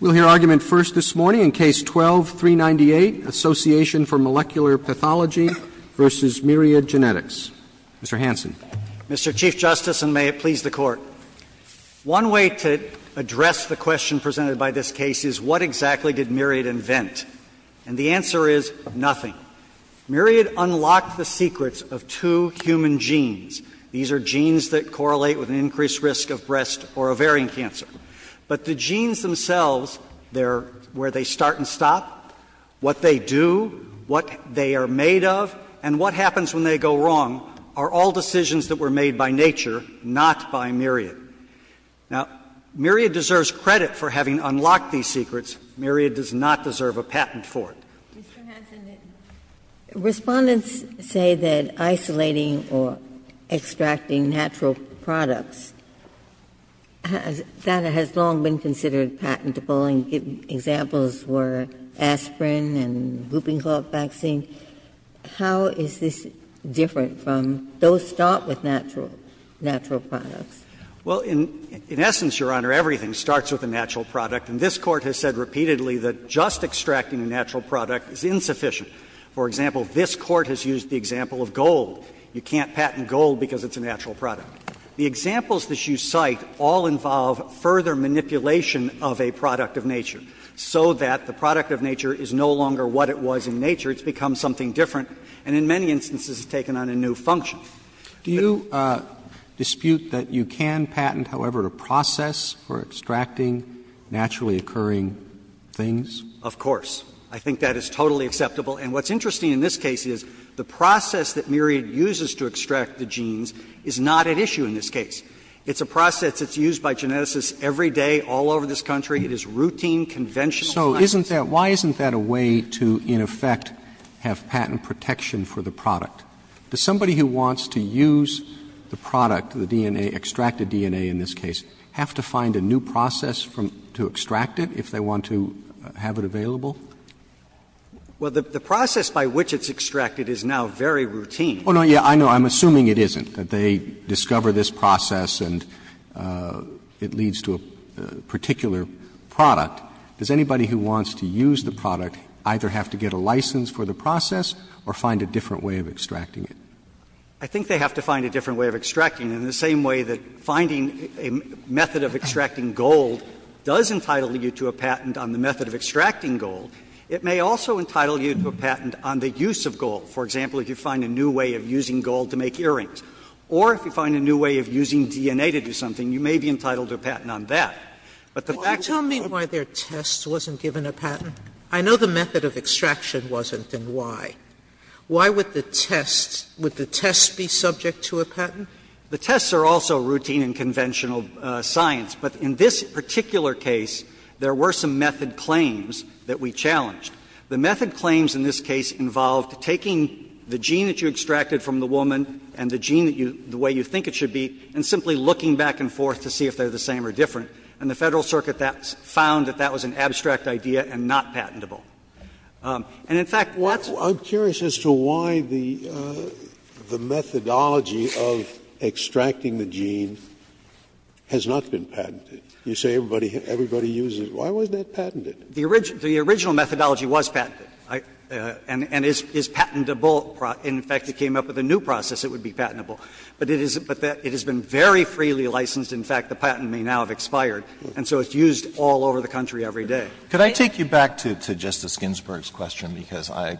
We'll hear argument first this morning in Case 12-398, Association for Molecular Pathology v. Myriad Genetics. Mr. Hanson. Mr. Chief Justice, and may it please the Court. One way to address the question presented by this case is what exactly did Myriad invent? And the answer is nothing. Myriad unlocked the secrets of two human genes. These are genes that correlate with an increased risk of breast or ovarian cancer. But the genes themselves, they're where they start and stop, what they do, what they are made of, and what happens when they go wrong, are all decisions that were made by nature, not by Myriad. Now, Myriad deserves credit for having unlocked these secrets. Myriad does not deserve a patent for it. Mr. Hanson, Respondents say that isolating or extracting natural products has long been considered patentable, and examples were aspirin and whooping cough vaccine. How is this different from, those start with natural products? Well, in essence, Your Honor, everything starts with a natural product. And this Court has said repeatedly that just extracting a natural product is insufficient. For example, this Court has used the example of gold. You can't patent gold because it's a natural product. The examples that you cite all involve further manipulation of a product of nature so that the product of nature is no longer what it was in nature. It's become something different and in many instances has taken on a new function. Do you dispute that you can patent, however, a process for extracting naturally occurring things? Of course. I think that is totally acceptable. And what's interesting in this case is the process that Myriad uses to extract the genes is not at issue in this case. It's a process that's used by geneticists every day all over this country. It is routine, conventional science. So isn't that why isn't that a way to, in effect, have patent protection for the product? Does somebody who wants to use the product, the DNA, extracted DNA in this case, have to find a new process to extract it if they want to have it available? Well, the process by which it's extracted is now very routine. Oh, no. Yeah, I know. I'm assuming it isn't, that they discover this process and it leads to a particular product. Does anybody who wants to use the product either have to get a license for the process or find a different way of extracting it? I think they have to find a different way of extracting it, in the same way that finding a method of extracting gold does entitle you to a patent on the method of extracting gold. It may also entitle you to a patent on the use of gold. For example, if you find a new way of using gold to make earrings. Or if you find a new way of using DNA to do something, you may be entitled to a patent But the fact is that the patent is not a patent. Sotomayor, tell me why their test wasn't given a patent. I know the method of extraction wasn't, then why? Why would the test, would the test be subject to a patent? The tests are also routine and conventional science. But in this particular case, there were some method claims that we challenged. The method claims in this case involved taking the gene that you extracted from the woman and the gene that you, the way you think it should be, and simply looking back and forth to see if they're the same or different. And the Federal Circuit found that that was an abstract idea and not patentable. And in fact, what's I'm curious as to why the methodology of extracting the gene has not been patented. You say everybody uses it. Why wasn't that patented? The original methodology was patented and is patentable. In fact, it came up with a new process that would be patentable. But it has been very freely licensed. In fact, the patent may now have expired. And so it's used all over the country every day. Alito, could I take you back to Justice Ginsburg's question, because I'm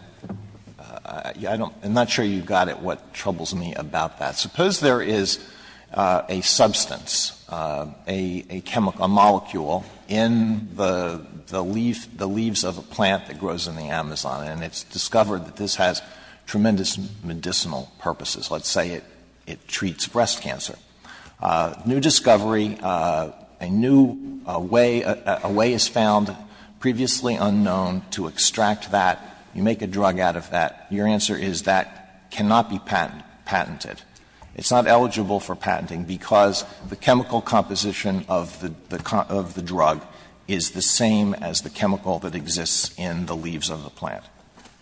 not sure you got at what troubles me about that. Suppose there is a substance, a chemical, a molecule in the leaves of a plant that grows in the Amazon, and it's discovered that this has tremendous medicinal purposes. Let's say it treats breast cancer. New discovery, a new way, a way is found, previously unknown, to extract that. You make a drug out of that. Your answer is that cannot be patented. It's not eligible for patenting because the chemical composition of the drug is the same as the chemical that exists in the leaves of the plant.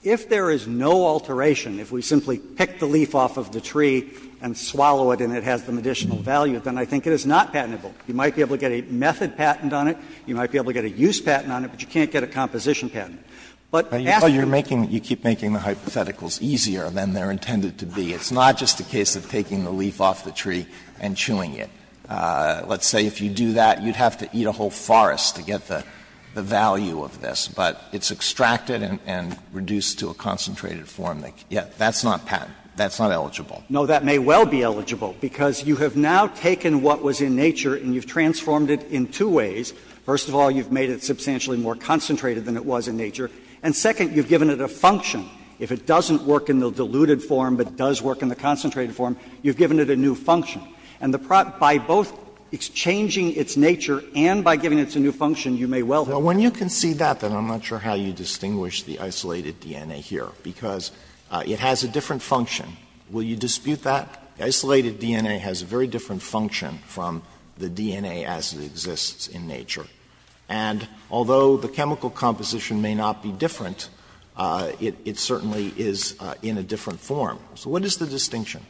If there is no alteration, if we simply pick the leaf off of the tree and swallow it and it has the medicinal value, then I think it is not patentable. You might be able to get a method patent on it. You might be able to get a use patent on it, but you can't get a composition But ask the Court. Alito, you're making the hypotheticals easier than they're intended to be. It's not just a case of taking the leaf off the tree and chewing it. Let's say if you do that, you'd have to eat a whole forest to get the value of this. But it's extracted and reduced to a concentrated form. That's not patent. That's not eligible. No, that may well be eligible, because you have now taken what was in nature and you've transformed it in two ways. First of all, you've made it substantially more concentrated than it was in nature. And second, you've given it a function. If it doesn't work in the diluted form but does work in the concentrated form, you've given it a new function. And by both exchanging its nature and by giving it a new function, you may well have When you concede that, then I'm not sure how you distinguish the isolated DNA here, because it has a different function. Will you dispute that? The isolated DNA has a very different function from the DNA as it exists in nature. And although the chemical composition may not be different, it certainly is in a different form. So what is the distinction?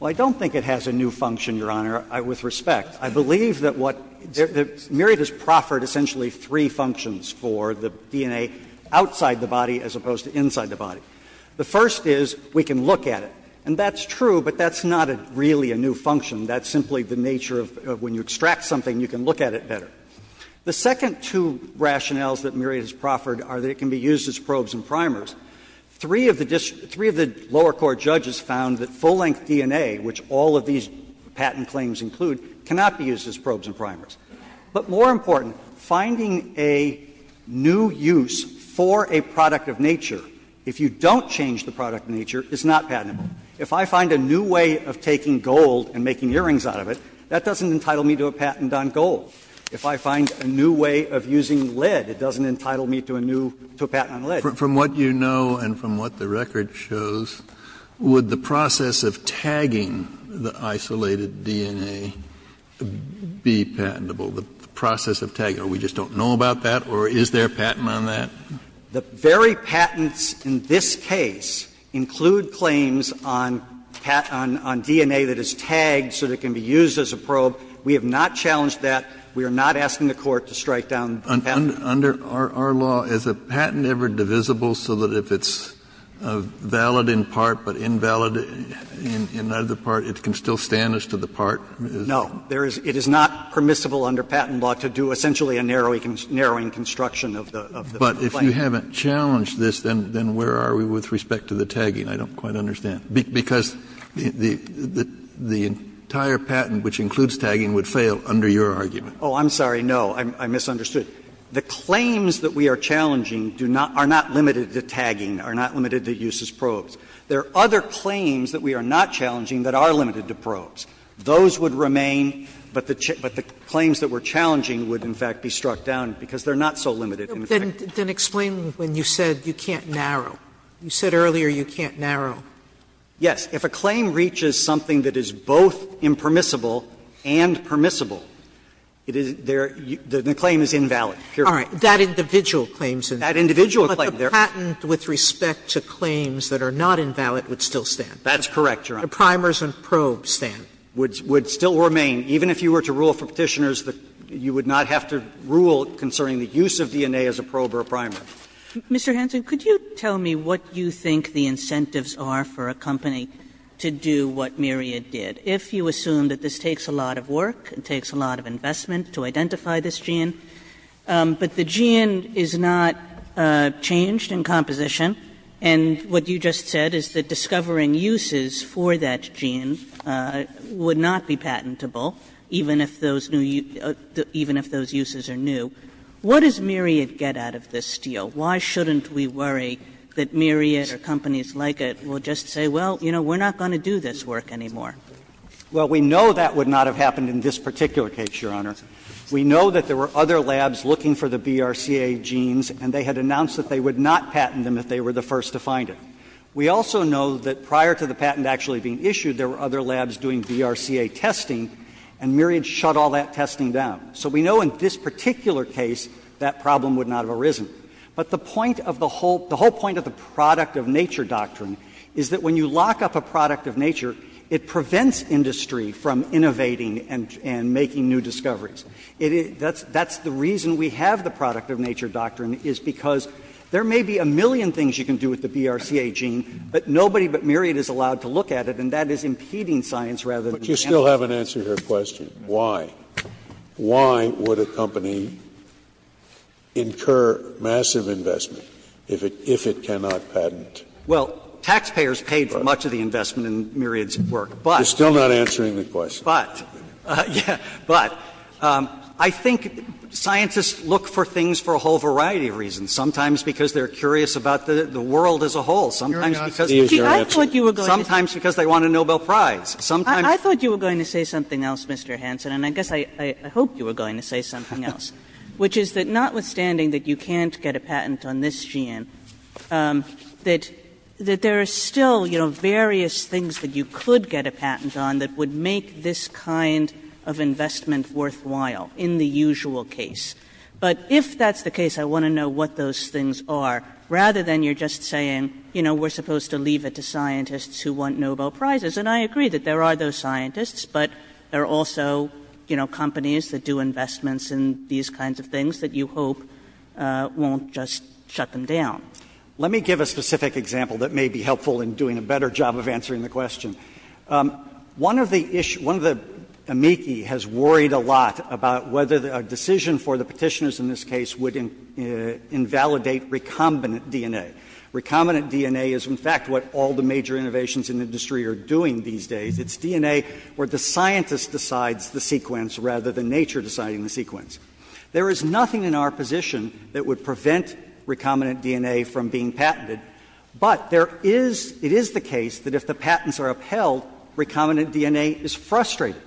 Well, I don't think it has a new function, Your Honor, with respect. I believe that what the Myriad has proffered essentially three functions for the DNA outside the body as opposed to inside the body. The first is we can look at it. And that's true, but that's not really a new function. That's simply the nature of when you extract something, you can look at it better. The second two rationales that Myriad has proffered are that it can be used as probes and primers. Three of the lower court judges found that full-length DNA, which all of these patent claims include, cannot be used as probes and primers. But more important, finding a new use for a product of nature, if you don't change the product of nature, is not patentable. If I find a new way of taking gold and making earrings out of it, that doesn't entitle me to a patent on gold. If I find a new way of using lead, it doesn't entitle me to a new patent on lead. Kennedy, from what you know and from what the record shows, would the process of tagging the isolated DNA be patentable, the process of tagging? Or we just don't know about that? Or is there a patent on that? The very patents in this case include claims on DNA that is tagged so that it can be used as a probe. We have not challenged that. We are not asking the Court to strike down the patent. Under our law, is a patent ever divisible so that if it's valid in part but invalid in another part, it can still stand as to the part? No. It is not permissible under patent law to do essentially a narrowing construction of the claim. But if you haven't challenged this, then where are we with respect to the tagging? I don't quite understand. Because the entire patent, which includes tagging, would fail under your argument. Oh, I'm sorry. No, I misunderstood. The claims that we are challenging are not limited to tagging, are not limited to use as probes. There are other claims that we are not challenging that are limited to probes. Those would remain, but the claims that we are challenging would, in fact, be struck down because they are not so limited in effect. Then explain when you said you can't narrow. You said earlier you can't narrow. Yes. If a claim reaches something that is both impermissible and permissible, it is there the claim is invalid. All right. That individual claim is invalid. That individual claim. The patent with respect to claims that are not invalid would still stand. That's correct, Your Honor. The primers and probes stand. Would still remain. Even if you were to rule for Petitioners, you would not have to rule concerning the use of DNA as a probe or a primer. Mr. Hanson, could you tell me what you think the incentives are for a company to do what Myriad did, if you assume that this takes a lot of work, it takes a lot of investment to identify this gene, but the gene is not changed in composition and what you just said is that discovering uses for that gene would not be patentable even if those new uses, even if those uses are new. What does Myriad get out of this deal? Why shouldn't we worry that Myriad or companies like it will just say, well, you know, we are not going to do this work anymore? Well, we know that would not have happened in this particular case, Your Honor. We know that there were other labs looking for the BRCA genes and they had announced that they would not patent them if they were the first to find it. We also know that prior to the patent actually being issued, there were other labs doing BRCA testing and Myriad shut all that testing down. So we know in this particular case that problem would not have arisen. But the point of the whole — the whole point of the product of nature doctrine is that when you lock up a product of nature, it prevents industry from innovating and making new discoveries. That's the reason we have the product of nature doctrine is because there may be a million things you can do with the BRCA gene, but nobody but Myriad is allowed to look at it and that is impeding science rather than the company. Scalia. But you still haven't answered her question. Why? Why would a company incur massive investment if it cannot patent? Well, taxpayers paid for much of the investment in Myriad's work, but. You're still not answering the question. But, yeah, but, I think scientists look for things for a whole variety of reasons. Sometimes because they are curious about the world as a whole. Sometimes because they want a Nobel Prize. Sometimes. I thought you were going to say something else, Mr. Hanson, and I guess I hope you were going to say something else, which is that notwithstanding that you can't get a patent on this gene, that there are still, you know, various things that you could get a patent on that would make this kind of investment worthwhile in the usual case. But if that's the case, I want to know what those things are, rather than you're just saying, you know, we're supposed to leave it to scientists who want Nobel Prizes, and I agree that there are those scientists, but there are also, you know, just shut them down. Let me give a specific example that may be helpful in doing a better job of answering the question. One of the issues — one of the amici has worried a lot about whether a decision for the Petitioners in this case would invalidate recombinant DNA. Recombinant DNA is, in fact, what all the major innovations in the industry are doing these days. It's DNA where the scientist decides the sequence, rather than nature deciding the sequence. There is nothing in our position that would prevent recombinant DNA from being patented, but there is — it is the case that if the patents are upheld, recombinant DNA is frustrated.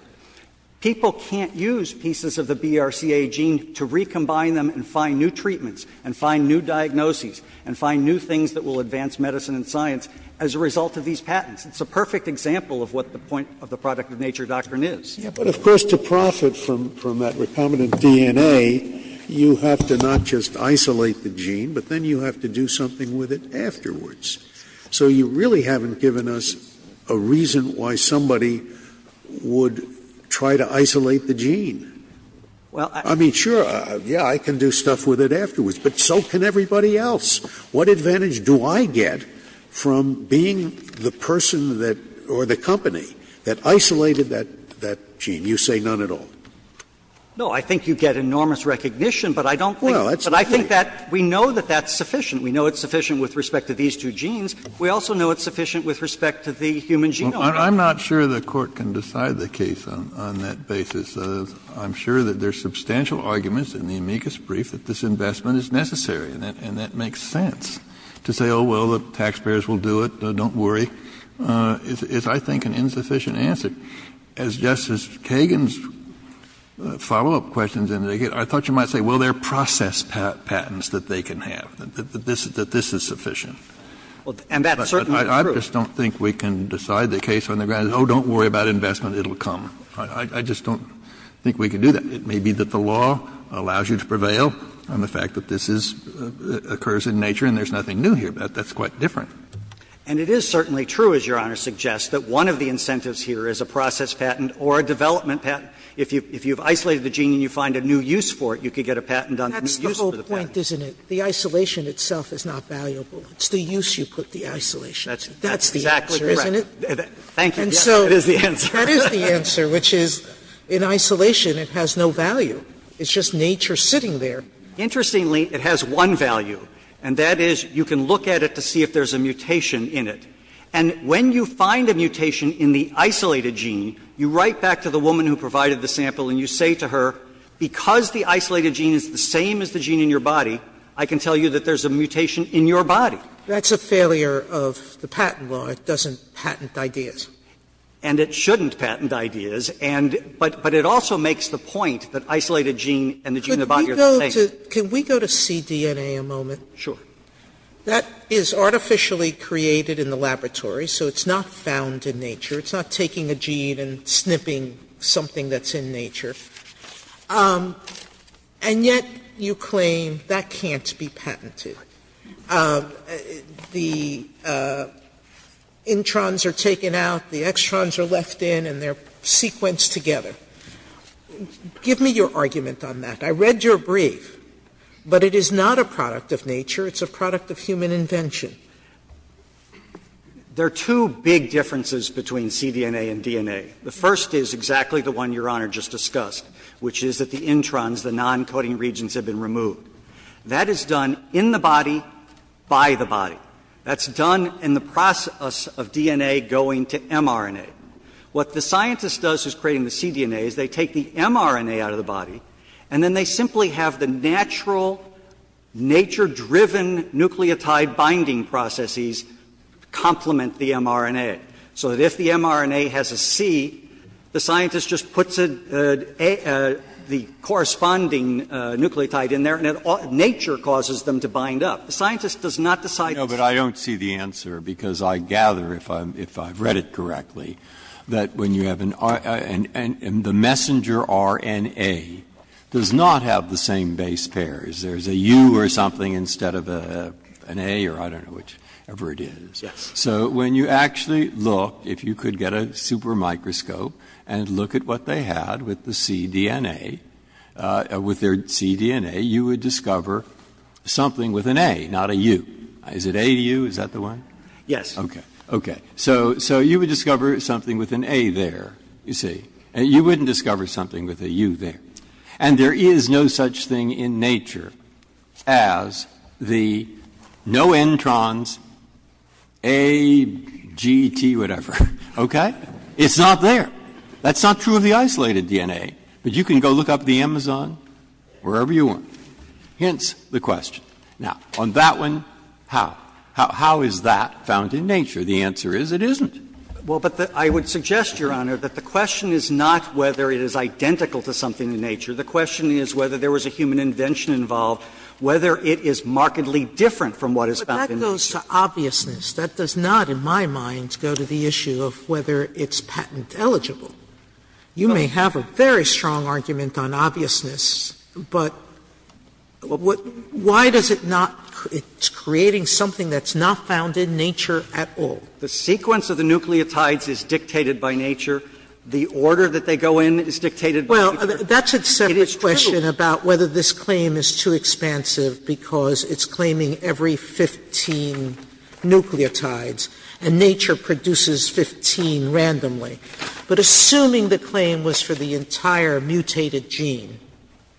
People can't use pieces of the BRCA gene to recombine them and find new treatments and find new diagnoses and find new things that will advance medicine and science as a result of these patents. It's a perfect example of what the point of the product-of-nature doctrine is. Scalia. But, of course, to profit from that recombinant DNA, you have to not just isolate the gene, but then you have to do something with it afterwards. So you really haven't given us a reason why somebody would try to isolate the gene. I mean, sure, yeah, I can do stuff with it afterwards, but so can everybody else. What advantage do I get from being the person that — or the company that isolated that gene? You say none at all. No, I think you get enormous recognition, but I don't think — Well, that's the point. But I think that we know that that's sufficient. We know it's sufficient with respect to these two genes. We also know it's sufficient with respect to the human genome. I'm not sure the Court can decide the case on that basis. I'm sure that there are substantial arguments in the amicus brief that this investment is necessary and that makes sense. To say, oh, well, the taxpayers will do it, don't worry, is, I think, an insufficient answer. As Justice Kagan's follow-up question indicated, I thought you might say, well, there are process patents that they can have, that this is sufficient. And that's certainly true. But I just don't think we can decide the case on the grounds, oh, don't worry about investment, it will come. I just don't think we can do that. It may be that the law allows you to prevail on the fact that this is — occurs in nature and there's nothing new here. That's quite different. And it is certainly true, as Your Honor suggests, that one of the incentives here is a process patent or a development patent. If you've isolated the gene and you find a new use for it, you could get a patent on the new use for the patent. Sotomayor, That's the whole point, isn't it? The isolation itself is not valuable. It's the use you put the isolation. That's the answer, isn't it? Breyer, Thank you. Yes, it is the answer. Sotomayor, That is the answer, which is, in isolation, it has no value. It's just nature sitting there. Breyer, Interestingly, it has one value, and that is you can look at it to see if there's a mutation in it. And when you find a mutation in the isolated gene, you write back to the woman who provided the sample and you say to her, because the isolated gene is the same as the gene in your body, I can tell you that there's a mutation in your body. Sotomayor, That's a failure of the patent law. It doesn't patent ideas. Breyer, And it shouldn't patent ideas, and — but it also makes the point that isolated gene and the gene in the body are the same. Sotomayor, Could we go to — could we go to cDNA a moment? Breyer, Sure. Sotomayor, That is artificially created in the laboratory, so it's not found in nature. It's not taking a gene and snipping something that's in nature. And yet you claim that can't be patented. The introns are taken out, the extrons are left in, and they're sequenced together. Give me your argument on that. I read your brief, but it is not a product of nature. It's a product of human invention. Breyer, There are two big differences between cDNA and DNA. The first is exactly the one Your Honor just discussed, which is that the introns, the non-coding regions, have been removed. That is done in the body by the body. That's done in the process of DNA going to mRNA. What the scientist does who's creating the cDNA is they take the mRNA out of the body, and then they simply have the natural, nature-driven nucleotide binding processes complement the mRNA, so that if the mRNA has a C, the scientist just puts the corresponding nucleotide in there, and nature causes them to bind up. The scientist does not decide to do that. Breyer, No, but I don't see the answer, because I gather, if I've read it correctly, that when you have an R, and the messenger RNA does not have the same base pairs. There's a U or something instead of an A, or I don't know, whichever it is. So when you actually look, if you could get a super microscope and look at what they had with the cDNA, with their cDNA, you would discover something with an A, not a U. Is it AU? Is that the one? Yes. Okay. So you would discover something with an A there, you see. You wouldn't discover something with a U there. And there is no such thing in nature as the no-entrons, A, G, T, whatever, okay? It's not there. That's not true of the isolated DNA, but you can go look up the Amazon, wherever you want. Hence the question. Now, on that one, how? How is that found in nature? The answer is it isn't. Well, but I would suggest, Your Honor, that the question is not whether it is identical to something in nature. The question is whether there was a human invention involved, whether it is markedly different from what is found in nature. But that goes to obviousness. That does not, in my mind, go to the issue of whether it's patent eligible. You may have a very strong argument on obviousness, but why does it not create something that's not found in nature at all? The sequence of the nucleotides is dictated by nature. The order that they go in is dictated by nature. Well, that's a separate question about whether this claim is too expansive, because it's claiming every 15 nucleotides, and nature produces 15 randomly. But assuming the claim was for the entire mutated gene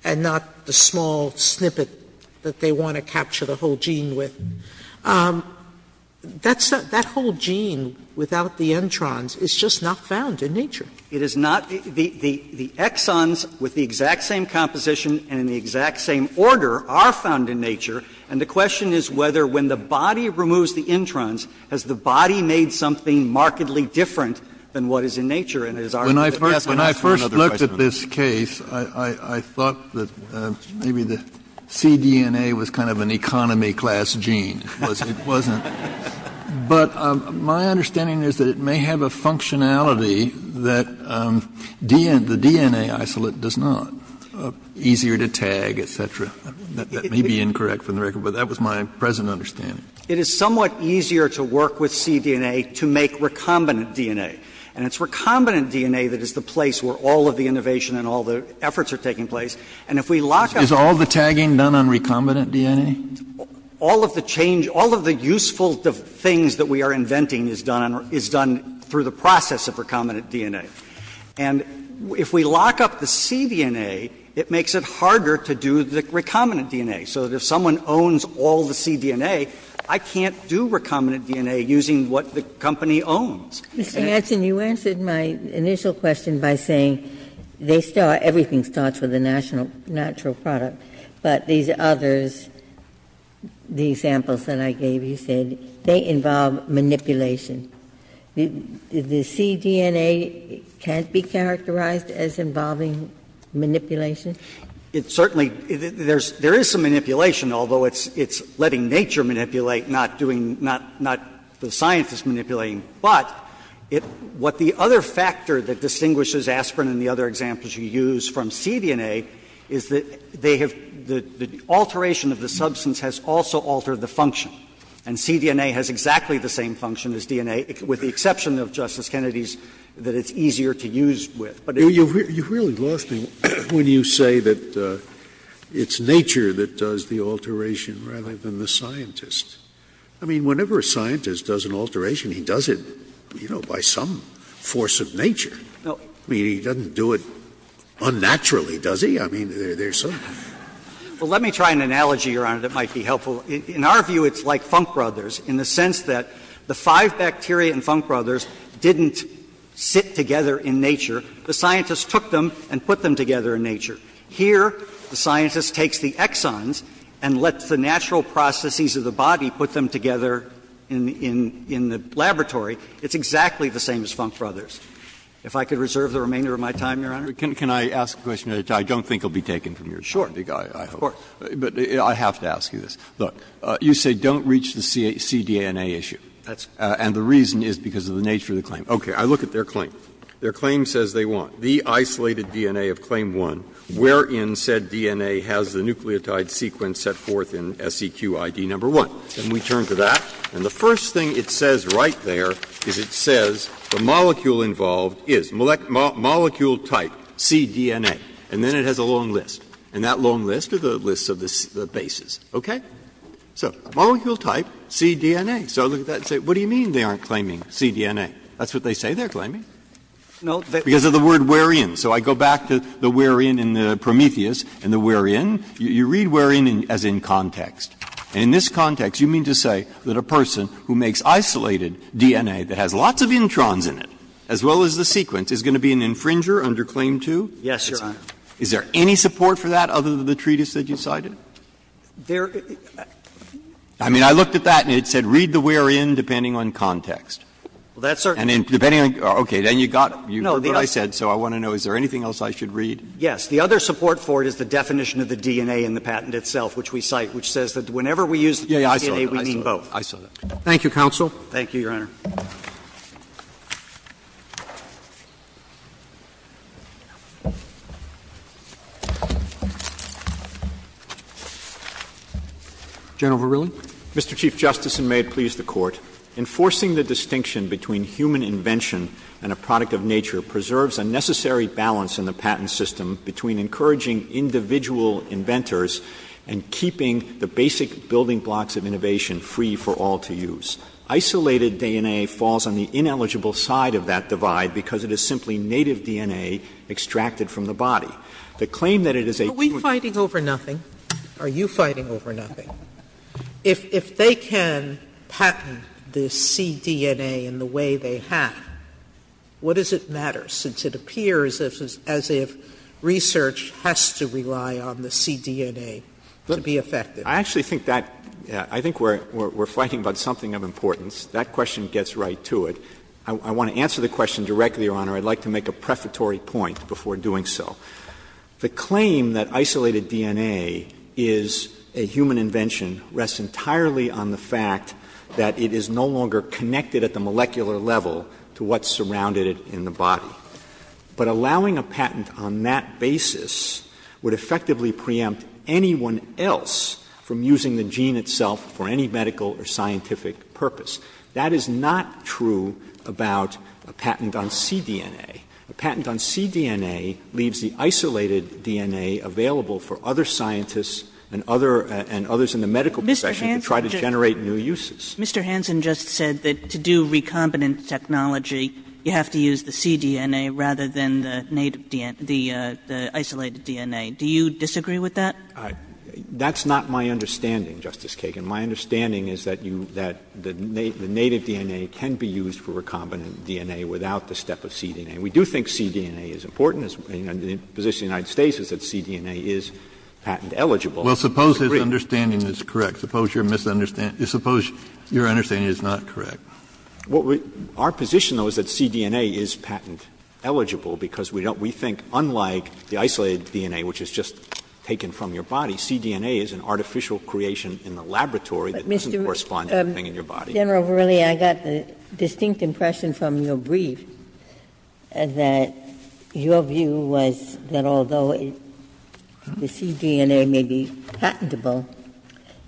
and not the small snippet that they want to capture the whole gene with, that whole gene without the introns is just not found in nature. It is not. The exons with the exact same composition and in the exact same order are found in nature, and the question is whether when the body removes the introns, has the body made something markedly different than what is in nature. And it is our view that yes, I'm asking another question on that. Kennedy, when I first looked at this case, I thought that maybe the cDNA was kind of an economy class gene. It wasn't. But my understanding is that it may have a functionality that the DNA isolate does not, easier to tag, et cetera. That may be incorrect from the record, but that was my present understanding. It is somewhat easier to work with cDNA to make recombinant DNA. And it's recombinant DNA that is the place where all of the innovation and all the efforts are taking place. And if we lock up the cDNA, it makes it harder to do the recombinant DNA. So if someone owns all the cDNA, I can't do recombinant DNA using what the company owns. Ginsburg. Mr. Hanson, you answered my initial question by saying they start, everything starts with a natural product, but these others, the examples that I gave, you said they involve manipulation. The cDNA can't be characterized as involving manipulation? It certainly, there is some manipulation, although it's letting nature manipulate, not doing, not the scientists manipulating. But what the other factor that distinguishes aspirin and the other examples you use from cDNA is that they have, the alteration of the substance has also altered the function. And cDNA has exactly the same function as DNA, with the exception of Justice Kennedy's, that it's easier to use with. Scalia. But you've really lost me when you say that it's nature that does the alteration rather than the scientist. I mean, whenever a scientist does an alteration, he does it, you know, by some force of nature. I mean, he doesn't do it unnaturally, does he? I mean, there's some. Well, let me try an analogy, Your Honor, that might be helpful. In our view, it's like Funk Brothers in the sense that the five bacteria in Funk Brothers didn't sit together in nature. The scientists took them and put them together in nature. Here, the scientist takes the exons and lets the natural processes of the body put them together in the laboratory. It's exactly the same as Funk Brothers. If I could reserve the remainder of my time, Your Honor. Breyer. Can I ask a question that I don't think will be taken from you? Sure. But I have to ask you this. Look, you say don't reach the cDNA issue. That's correct. And the reason is because of the nature of the claim. Okay. I look at their claim. Their claim says they want the isolated DNA of claim one. Wherein said DNA has the nucleotide sequence set forth in SEQ ID number one. And we turn to that. And the first thing it says right there is it says the molecule involved is. Molecule type, cDNA. And then it has a long list. And that long list are the lists of the bases. Okay? So molecule type, cDNA. So I look at that and say, what do you mean they aren't claiming cDNA? That's what they say they're claiming. Because of the word wherein. So I go back to the wherein in the Prometheus and the wherein. You read wherein as in context. And in this context, you mean to say that a person who makes isolated DNA that has lots of introns in it, as well as the sequence, is going to be an infringer under claim two? Yes, Your Honor. Is there any support for that other than the treatise that you cited? There are. I mean, I looked at that and it said read the wherein depending on context. Well, that's certainly. And depending on the context. Okay. Then you got it. But you heard what I said, so I want to know, is there anything else I should read? Yes. The other support for it is the definition of the DNA in the patent itself, which we cite, which says that whenever we use the cDNA, we mean both. Yes, I saw that. I saw that. Thank you, counsel. Thank you, Your Honor. General Verrilli. Mr. Chief Justice, and may it please the Court, enforcing the distinction between human invention and a product of nature preserves a necessary balance in the patent system between encouraging individual inventors and keeping the basic building blocks of innovation free for all to use. Isolated DNA falls on the ineligible side of that divide because it is simply native DNA extracted from the body. The claim that it is a human invention. Are we fighting over nothing? Are you fighting over nothing? If they can patent the cDNA in the way they have, what does it matter, since it appears as if research has to rely on the cDNA to be effective? I actually think that we're fighting about something of importance. That question gets right to it. I want to answer the question directly, Your Honor. I'd like to make a prefatory point before doing so. The claim that isolated DNA is a human invention rests entirely on the fact that it is no longer connected at the molecular level to what's surrounded it in the body. But allowing a patent on that basis would effectively preempt anyone else from using the gene itself for any medical or scientific purpose. That is not true about a patent on cDNA. A patent on cDNA leaves the isolated DNA available for other scientists and other others in the medical profession to try to generate new uses. Kagan. Mr. Hanson just said that to do recombinant technology, you have to use the cDNA rather than the isolated DNA. Do you disagree with that? That's not my understanding, Justice Kagan. My understanding is that the native DNA can be used for recombinant DNA without the step of cDNA. We do think cDNA is important. The position of the United States is that cDNA is patent eligible. Well, suppose his understanding is correct. Suppose your misunderstanding is not correct. Our position, though, is that cDNA is patent eligible because we think unlike the isolated DNA, which is just taken from your body, cDNA is an artificial creation in the laboratory that doesn't correspond to anything in your body. Ginsburg. General Verrilli, I got the distinct impression from your brief that your view was that although the cDNA may be patentable,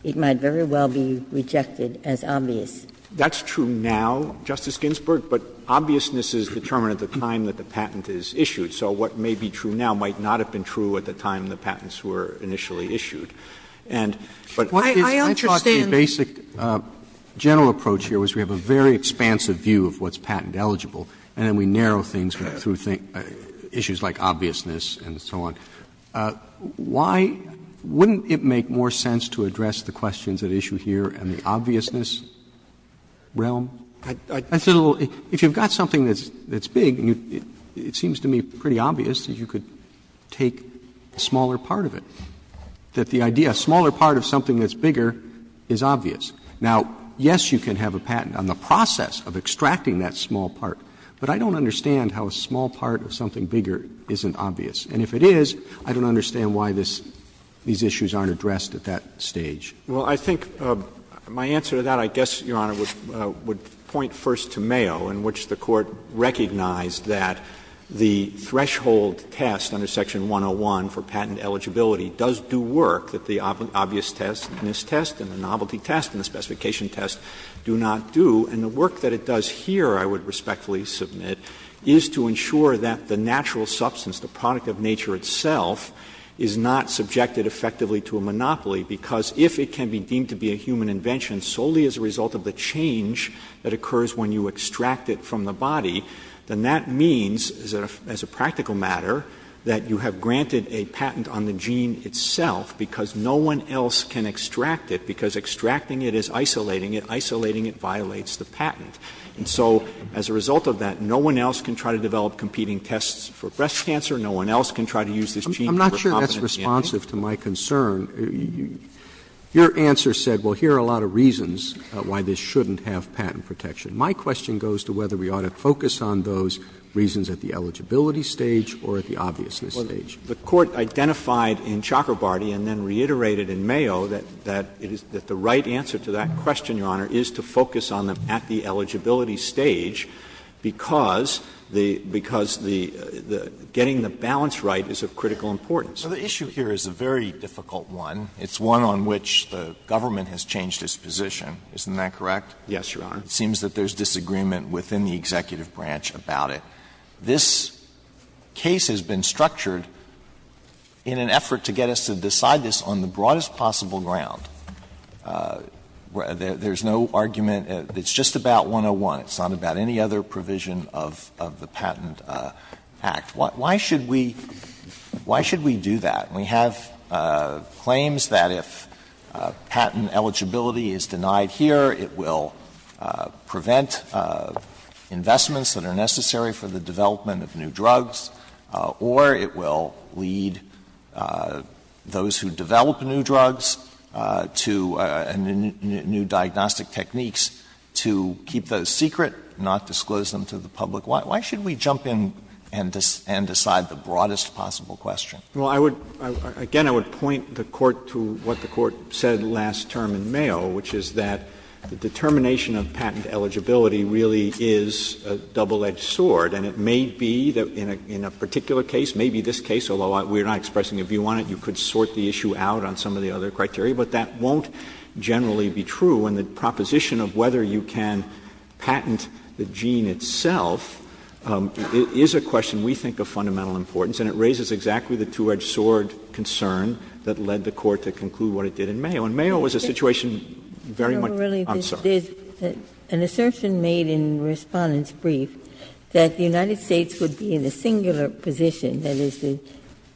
it might very well be rejected as obvious. That's true now, Justice Ginsburg, but obviousness is determined at the time that the patent is issued. So what may be true now might not have been true at the time the patents were initially issued. Roberts, my approach here was we have a very expansive view of what's patent eligible, and then we narrow things through issues like obviousness and so on. Why wouldn't it make more sense to address the questions at issue here in the obviousness realm? I said a little ‑‑ if you've got something that's big, it seems to me pretty obvious that you could take a smaller part of it, that the idea, a smaller part of something that's bigger is obvious. Now, yes, you can have a patent on the process of extracting that small part, but I don't understand how a small part of something bigger isn't obvious. And if it is, I don't understand why this ‑‑ these issues aren't addressed at that stage. Roberts, I think my answer to that, I guess, Your Honor, would point first to Mayo, in which the Court recognized that the threshold test under section 101 for patent eligibility does do work, that the obviousness test and the novelty test and the second specification test do not do. And the work that it does here, I would respectfully submit, is to ensure that the natural substance, the product of nature itself, is not subjected effectively to a monopoly, because if it can be deemed to be a human invention solely as a result of the change that occurs when you extract it from the body, then that means, as a practical matter, that you have granted a patent on the gene itself, because no one else can extract it, because extracting it is isolating it. Isolating it violates the patent. And so as a result of that, no one else can try to develop competing tests for breast cancer. No one else can try to use this gene for competence. Roberts, I'm not sure that's responsive to my concern. Your answer said, well, here are a lot of reasons why this shouldn't have patent protection. My question goes to whether we ought to focus on those reasons at the eligibility stage or at the obviousness stage. The Court identified in Chakrabarty and then reiterated in Mayo that the right answer to that question, Your Honor, is to focus on them at the eligibility stage because the getting the balance right is of critical importance. Alito, the issue here is a very difficult one. It's one on which the government has changed its position, isn't that correct? Yes, Your Honor. It seems that there's disagreement within the executive branch about it. This case has been structured in an effort to get us to decide this on the broadest possible ground. There's no argument. It's just about 101. It's not about any other provision of the Patent Act. Why should we do that? We have claims that if patent eligibility is denied here, it will prevent investments that are necessary for the development of new drugs, or it will lead those who develop new drugs to new diagnostic techniques to keep those secret, not disclose them to the public. Why should we jump in and decide the broadest possible question? Well, I would, again, I would point the Court to what the Court said last term in Mayo, which is that the determination of patent eligibility really is a double-edged sword. And it may be that in a particular case, maybe this case, although we're not expressing a view on it, you could sort the issue out on some of the other criteria, but that won't generally be true. And the proposition of whether you can patent the gene itself is a question we think of fundamental importance, and it raises exactly the two-edged sword concern that led the Court to conclude what it did in Mayo. And Mayo was a situation very much uncertain. Ginsburg. An assertion made in the Respondent's brief that the United States would be in a singular position, that is,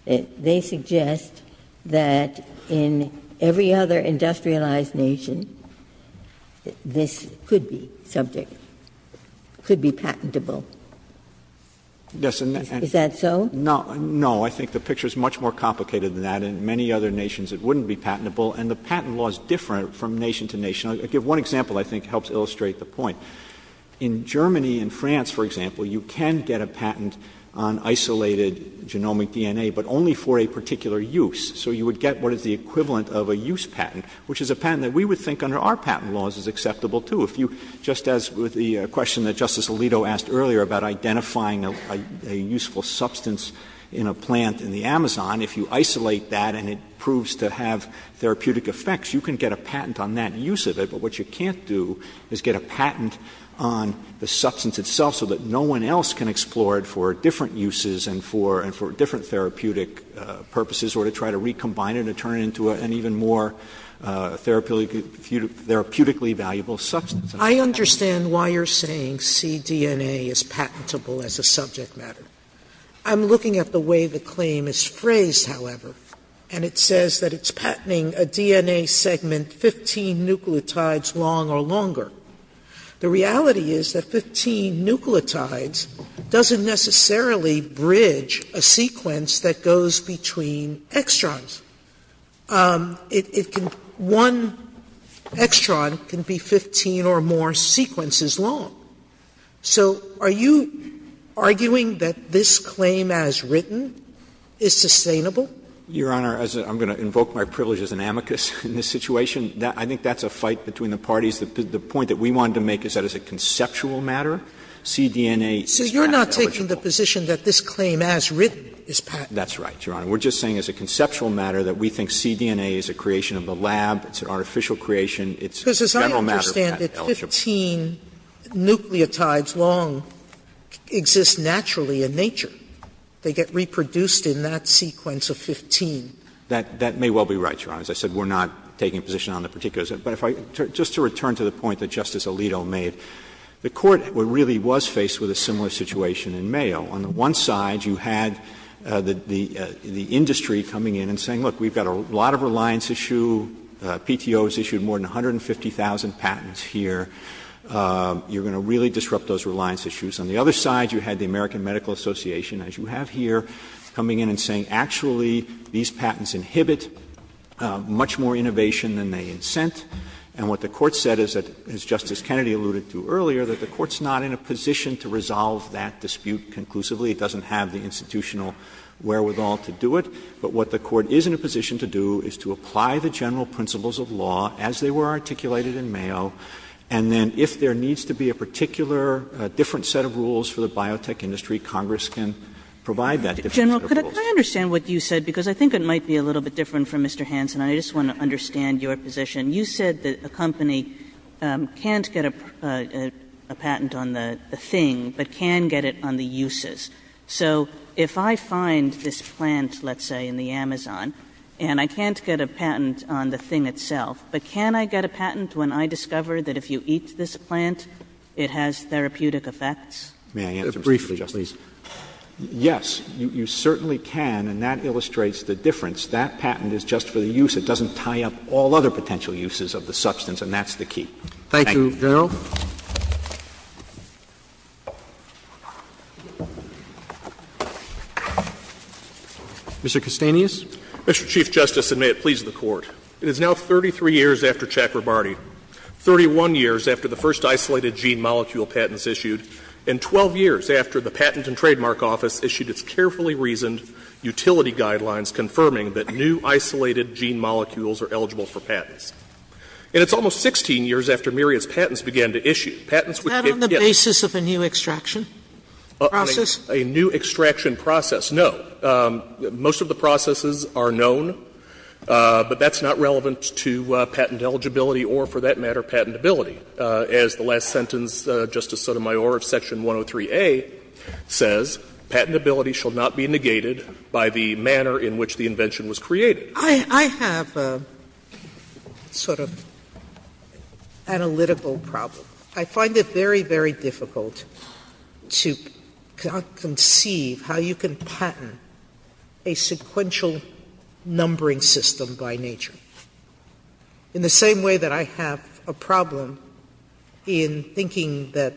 they suggest that in every other industrialized nation, this could be subject, could be patentable. Is that so? No, I think the picture is much more complicated than that. In many other nations, it wouldn't be patentable. And the patent law is different from nation to nation. I'll give one example I think helps illustrate the point. In Germany and France, for example, you can get a patent on isolated genomic DNA, but only for a particular use. So you would get what is the equivalent of a use patent, which is a patent that we would think under our patent laws is acceptable, too. If you, just as with the question that Justice Alito asked earlier about identifying a useful substance in a plant in the Amazon, if you isolate that and it proves to have therapeutic effects, you can get a patent on that use of it. But what you can't do is get a patent on the substance itself so that no one else can explore it for different uses and for different therapeutic purposes or to try to recombine it or turn it into an even more therapeutically valuable substance. Sotomayor I understand why you're saying cDNA is patentable as a subject matter. I'm looking at the way the claim is phrased, however, and it says that it's patenting a DNA segment 15 nucleotides long or longer. The reality is that 15 nucleotides doesn't necessarily bridge a sequence that goes between extrons. It can one extron can be 15 or more sequences long. So are you arguing that this claim as written is sustainable? Verrilli, Your Honor, as I'm going to invoke my privilege as an amicus in this situation, I think that's a fight between the parties. The point that we wanted to make is that as a conceptual matter, cDNA is patentable. Sotomayor So you're not taking the position that this claim as written is patentable? Verrilli, That's right, Your Honor. We're just saying as a conceptual matter that we think cDNA is a creation of the lab. It's an artificial creation. It's a general matter of patent eligibility. Sotomayor Because as I understand it, 15 nucleotides long exist naturally in nature. They get reproduced in that sequence of 15. Verrilli, That may well be right, Your Honor. As I said, we're not taking a position on the particulars. But if I just to return to the point that Justice Alito made, the Court really was faced with a similar situation in Mayo. On the one side, you had the industry coming in and saying, look, we've got a lot of reliance issue, PTO has issued more than 150,000 patents here, you're going to really disrupt those reliance issues. On the other side, you had the American Medical Association, as you have here, coming in and saying, actually, these patents inhibit much more innovation than they incent. And what the Court said is that, as Justice Kennedy alluded to earlier, that the Court is not in a position to resolve that dispute conclusively. It doesn't have the institutional wherewithal to do it. But what the Court is in a position to do is to apply the general principles of law as they were articulated in Mayo, and then if there needs to be a particular different set of rules for the biotech industry, Congress can provide that different set of rules. Kagan, General, could I understand what you said, because I think it might be a little bit different from Mr. Hanson. I just want to understand your position. You said that a company can't get a patent on the thing, but can get it on the uses. So if I find this plant, let's say, in the Amazon, and I can't get a patent on the thing itself, but can I get a patent when I discover that if you eat this plant, it has therapeutic effects? May I answer, Mr. Chief Justice? Roberts, please. Yes, you certainly can, and that illustrates the difference. That patent is just for the use. It doesn't tie up all other potential uses of the substance, and that's the key. Thank you. Thank you, General. Mr. Castanis. Mr. Chief Justice, and may it please the Court, it is now 33 years after Chakrabarty, 31 years after the first isolated gene molecule patents issued, and 12 years after the Patent and Trademark Office issued its carefully reasoned utility guidelines confirming that new isolated gene molecules are eligible for patents. And it's almost 16 years after Myriad's patents began to issue. Patents would give gifts. Sotomayor's patent eligibility or, for that matter, patentability, as the last sentence, Justice Sotomayor, of Section 103A says, patentability shall not be negated by the manner in which a patent is issued. It should not be negated by the manner in which the invention was created. I have a sort of analytical problem. I find it very, very difficult to conceive how you can patent a sequential numbering system by nature. In the same way that I have a problem in thinking that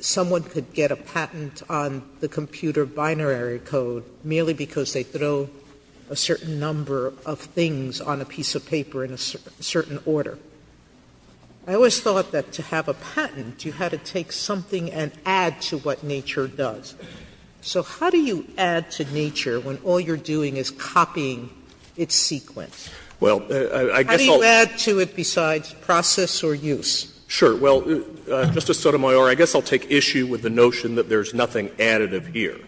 someone could get a patent on the computer binary code merely because they throw a certain number of things on a piece of paper in a certain order. I always thought that to have a patent, you had to take something and add to what nature does. So how do you add to nature when all you're doing is copying its sequence? How do you add to it besides process or use? Sure. Well, Justice Sotomayor, I guess I'll take issue with the notion that there's nothing additive here.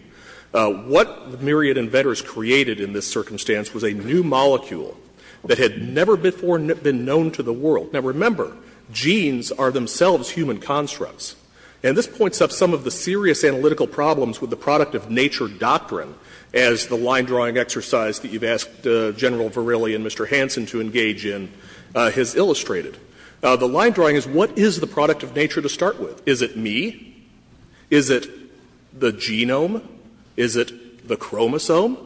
What Myriad Inventors created in this circumstance was a new molecule that had never before been known to the world. Now, remember, genes are themselves human constructs. And this points up some of the serious analytical problems with the product-of-nature doctrine, as the line-drawing exercise that you've asked General Verrilli and Mr. Hansen to engage in has illustrated. The line-drawing is, what is the product-of-nature to start with? Is it me? Is it the genome? Is it the chromosome?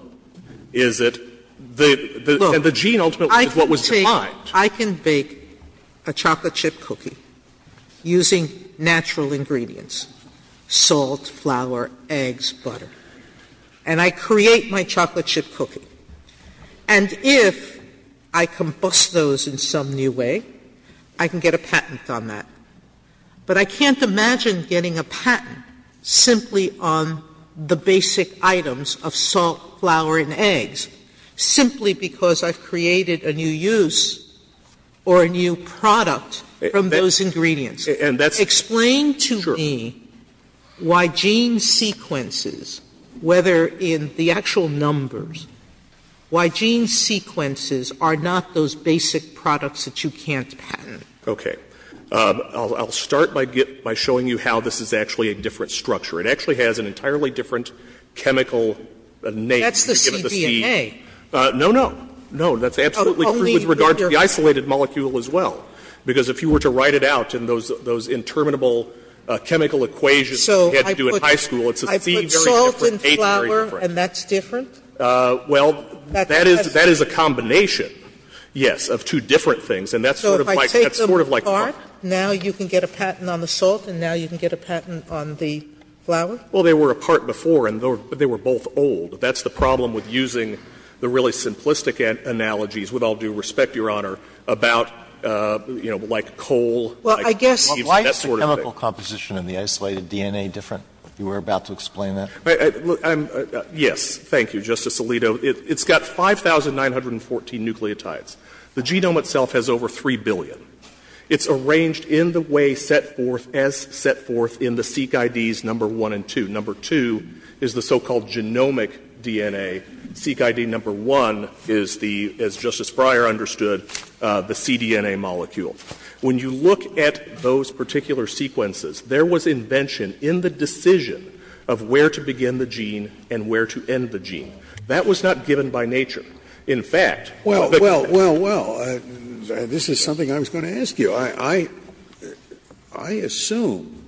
Is it the gene, ultimately, is what was defined. Sotomayor, I can bake a chocolate chip cookie using natural ingredients, salt, flour, eggs, butter, and I create my chocolate chip cookie. And if I combust those in some new way, I can get a patent on that. But I can't imagine getting a patent simply on the basic items of salt, flour, and eggs, simply because I've created a new use or a new product from those ingredients. Explain to me why gene sequences, whether in the actual numbers or in the actual numbers, why gene sequences are not those basic products that you can't patent. Okay. I'll start by showing you how this is actually a different structure. It actually has an entirely different chemical name. That's the CDNA. No, no. No, that's absolutely true with regard to the isolated molecule as well, because if you were to write it out in those interminable chemical equations that you had to do in high school, it's a C very different, A very different. I put salt and flour, and that's different? Well, that is a combination, yes, of two different things. And that's sort of like my question. So if I take them apart, now you can get a patent on the salt and now you can get a patent on the flour? Well, they were apart before, and they were both old. That's the problem with using the really simplistic analogies, with all due respect, Your Honor, about, you know, like coal, like that sort of thing. Well, I guess why is the chemical composition in the isolated DNA different? You were about to explain that. Yes. Thank you, Justice Alito. It's got 5,914 nucleotides. The genome itself has over 3 billion. It's arranged in the way set forth, as set forth in the Seq IDs number 1 and 2. Number 2 is the so-called genomic DNA. Seq ID number 1 is the, as Justice Breyer understood, the CDNA molecule. When you look at those particular sequences, there was invention in the decision of where to begin the gene and where to end the gene. That was not given by nature. In fact, the fact that the gene was not given by nature was given by nature. Scalia Well, well, well, this is something I was going to ask you. I assume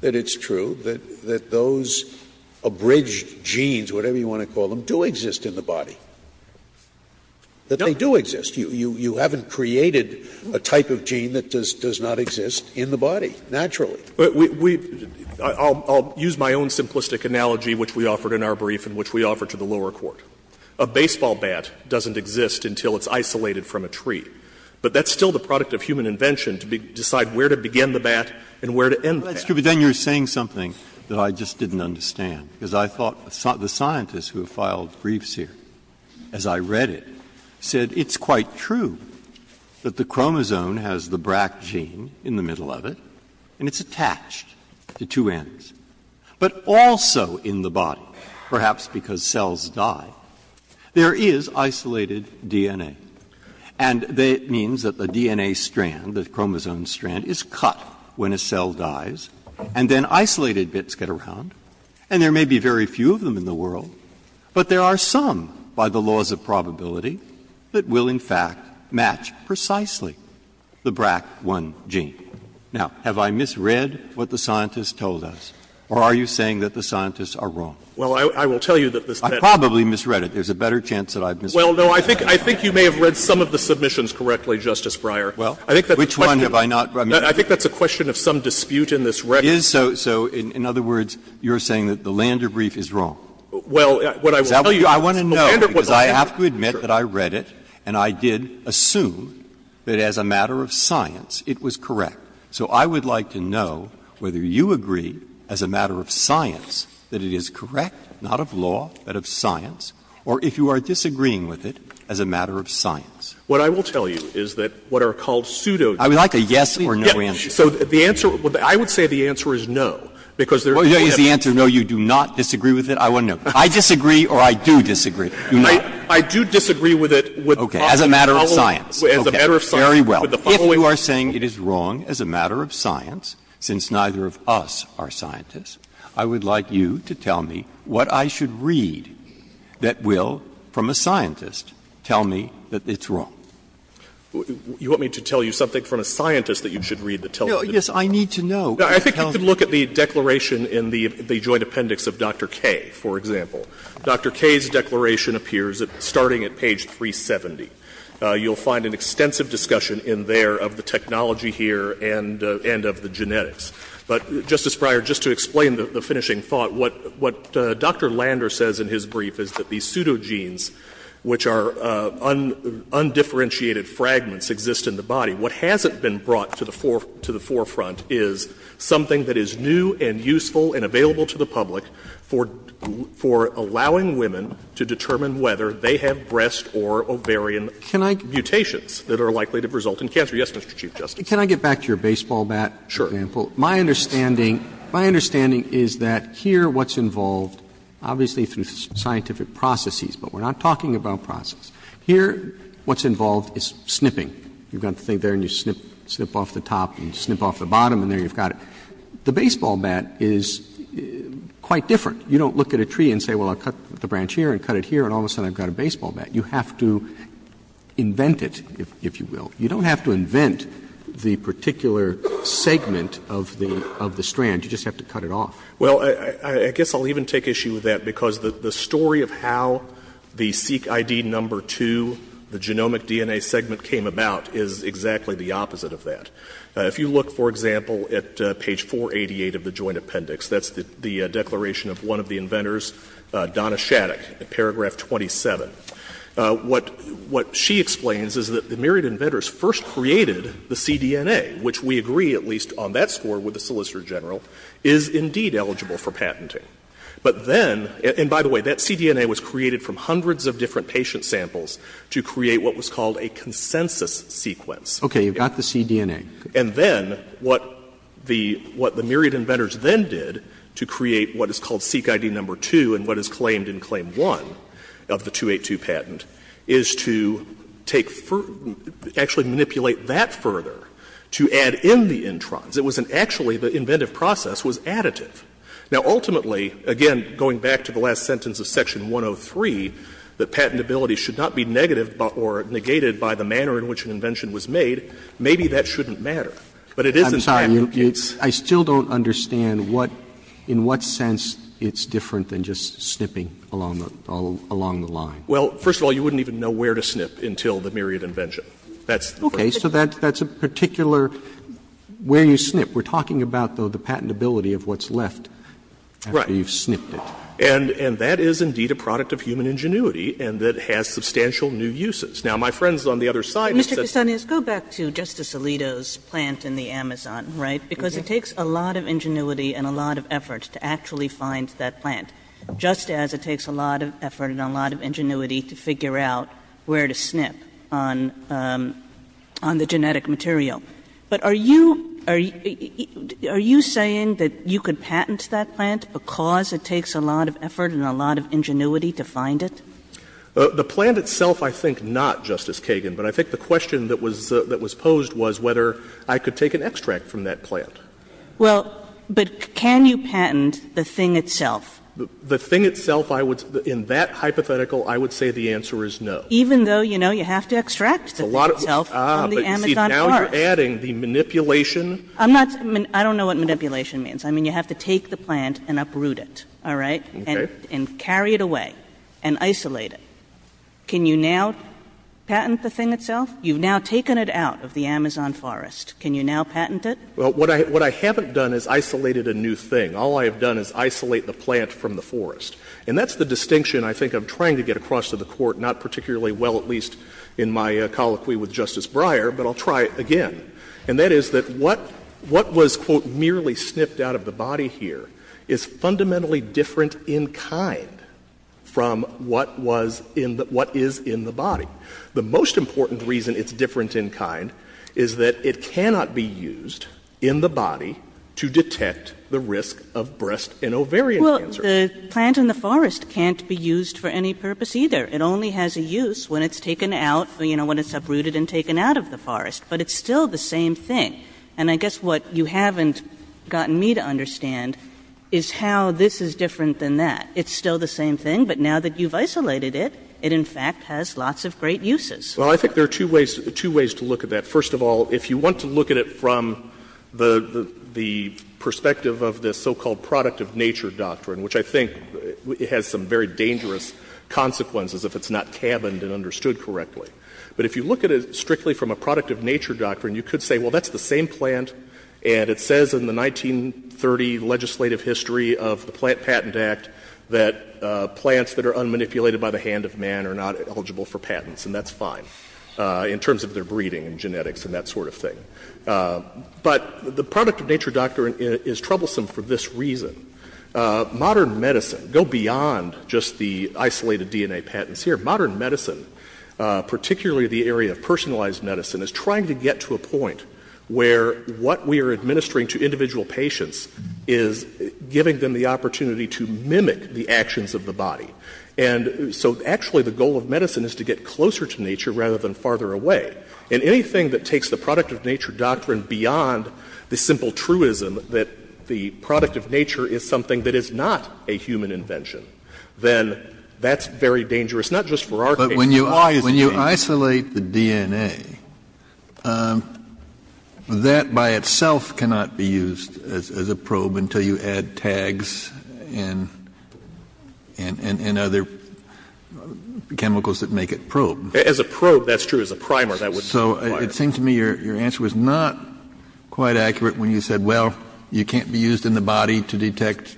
that it's true that those abridged genes, whatever you want to call them, do exist in the body, that they do exist. You haven't created a type of gene that does not exist in the body, naturally. Fisher I'll use my own simplistic analogy, which we offered in our brief and which we offered to the lower court. A baseball bat doesn't exist until it's isolated from a tree. But that's still the product of human invention to decide where to begin the bat and where to end the bat. Breyer That's true, but then you're saying something that I just didn't understand. Because I thought the scientists who have filed briefs here, as I read it, said it's quite true that the chromosome has the BRAC gene in the middle of it, and it's a type of gene that's attached to two ends. But also in the body, perhaps because cells die, there is isolated DNA, and it means that the DNA strand, the chromosome strand, is cut when a cell dies, and then isolated bits get around. And there may be very few of them in the world, but there are some, by the laws of probability, that will, in fact, match precisely the BRAC1 gene. Now, have I misread what the scientists told us, or are you saying that the scientists are wrong? Fisher Well, I will tell you that this Tenet is wrong. Breyer I probably misread it. There's a better chance that I've misread it. Fisher Well, no, I think you may have read some of the submissions correctly, Justice Breyer. I think that's a question of some dispute in this record. Breyer So in other words, you're saying that the Lander brief is wrong. Fisher Well, what I will tell you is that the Lander brief was wrong. Breyer I want to know, because I have to admit that I read it, and I did assume that as a matter of science, it was correct. So I would like to know whether you agree, as a matter of science, that it is correct, not of law, but of science, or if you are disagreeing with it as a matter of science. Fisher What I will tell you is that what are called pseudo-doubts. Breyer I would like a yes or no answer. Fisher So the answer, I would say the answer is no, because there is no evidence. Breyer Is the answer no, you do not disagree with it? I want to know. I disagree or I do disagree. You don't? Fisher I do disagree with it. Breyer Okay. As a matter of science. Fisher As a matter of science. Breyer Very well. If you are saying it is wrong as a matter of science, since neither of us are scientists, I would like you to tell me what I should read that will, from a scientist, tell me that it's wrong. Fisher You want me to tell you something from a scientist that you should read that tells you it's wrong? Breyer Yes, I need to know. Fisher I think you could look at the declaration in the joint appendix of Dr. Kaye, for example. Dr. Kaye's declaration appears starting at page 370. You will find an extensive discussion in there of the technology here and of the genetics. But, Justice Breyer, just to explain the finishing thought, what Dr. Lander says in his brief is that these pseudogenes, which are undifferentiated fragments, exist in the body. What hasn't been brought to the forefront is something that is new and useful and available to the public for allowing women to determine whether they have breast or ovarian mutations that are likely to result in cancer. Yes, Mr. Chief Justice. Roberts Can I get back to your baseball bat example? Fisher Sure. Roberts My understanding is that here what's involved, obviously through scientific processes, but we're not talking about processes, here what's involved is snipping. You've got the thing there and you snip off the top and snip off the bottom and there you've got it. The baseball bat is quite different. You don't look at a tree and say, well, I'll cut the branch here and cut it here, and all of a sudden I've got a baseball bat. You have to invent it, if you will. You don't have to invent the particular segment of the strand. You just have to cut it off. Fisher Well, I guess I'll even take issue with that because the story of how the SeqID No. 2, the genomic DNA segment, came about is exactly the opposite of that. If you look, for example, at page 488 of the Joint Appendix, that's the declaration of one of the inventors, Donna Shattuck, paragraph 27. What she explains is that the Myriad Inventors first created the cDNA, which we agree, at least on that score, with the Solicitor General, is indeed eligible for patenting. But then, and by the way, that cDNA was created from hundreds of different patient samples to create what was called a consensus sequence. Roberts Okay. You've got the cDNA. Fisher And then what the Myriad Inventors then did to create what is called SeqID No. 2 and what is claimed in Claim 1 of the 282 patent is to take further, actually manipulate that further to add in the introns. It was an actually, the inventive process was additive. Now, ultimately, again, going back to the last sentence of Section 103, that patentability should not be negative or negated by the manner in which an invention was made. Maybe that shouldn't matter. But it is in patentability. Roberts Well, first of all, you wouldn't even know where to snip until the Myriad Invention. That's the first thing. Roberts Okay. So that's a particular where you snip. We're talking about, though, the patentability of what's left after you've snipped it. Fisher Right. And that is indeed a product of human ingenuity and that has substantial new uses. Now, my friends on the other side have said that's not true. Kagan Mr. Castanez, go back to Justice Alito's plant in the Amazon, right, because it takes a lot of ingenuity and a lot of effort to actually find that plant. Just as it takes a lot of effort and a lot of ingenuity to figure out where to snip on the genetic material. But are you saying that you could patent that plant because it takes a lot of effort and a lot of ingenuity to find it? Castanez The plant itself, I think, not, Justice Kagan. But I think the question that was posed was whether I could take an extract from that plant. Kagan Well, but can you patent the thing itself? The thing itself, I would say, in that hypothetical, I would say the answer is no. Kagan Even though, you know, you have to extract the thing itself from the Amazon forest. Fisher Ah, but you see, now you're adding the manipulation. Kagan I'm not going to – I don't know what manipulation means. I mean, you have to take the plant and uproot it, all right, and carry it away, and isolate it. Can you now patent the thing itself? You've now taken it out of the Amazon forest. Can you now patent it? Fisher Well, what I haven't done is isolated a new thing. All I have done is isolate the plant from the forest. And that's the distinction I think I'm trying to get across to the Court, not particularly well at least in my colloquy with Justice Breyer, but I'll try it again. And that is that what was, quote, merely snipped out of the body here is fundamentally different in kind from what was in the – what is in the body. The most important reason it's different in kind is that it cannot be used in the body to detect the risk of breast and ovarian cancer. Kagan Well, the plant in the forest can't be used for any purpose either. It only has a use when it's taken out, you know, when it's uprooted and taken out of the forest. But it's still the same thing. And I guess what you haven't gotten me to understand is how this is different than that. It's still the same thing, but now that you've isolated it, it in fact has lots of great uses. Fisher Well, I think there are two ways – two ways to look at that. First of all, if you want to look at it from the perspective of the so-called product of nature doctrine, which I think has some very dangerous consequences if it's not cabined and understood correctly. But if you look at it strictly from a product of nature doctrine, you could say, well, that's the same plant, and it says in the 1930 legislative history of the Plant Patent Act that plants that are unmanipulated by the hand of man are not eligible for patents, and that's fine in terms of their breeding and genetics and that sort of thing. But the product of nature doctrine is troublesome for this reason. Modern medicine – go beyond just the isolated DNA patents here – modern medicine, particularly the area of personalized medicine, is trying to get to a point where what we are administering to individual patients is giving them the opportunity to mimic the actions of the body. And so actually the goal of medicine is to get closer to nature rather than farther away. And anything that takes the product of nature doctrine beyond the simple truism that the product of nature is something that is not a human invention, then that's very dangerous, not just for our case, but for all cases. Kennedy, but when you isolate the DNA, that by itself cannot be used as a probe until you add tags and other chemicals that make it probe. As a probe, that's true. As a primer, that would be required. So it seems to me your answer was not quite accurate when you said, well, you can't be used in the body to detect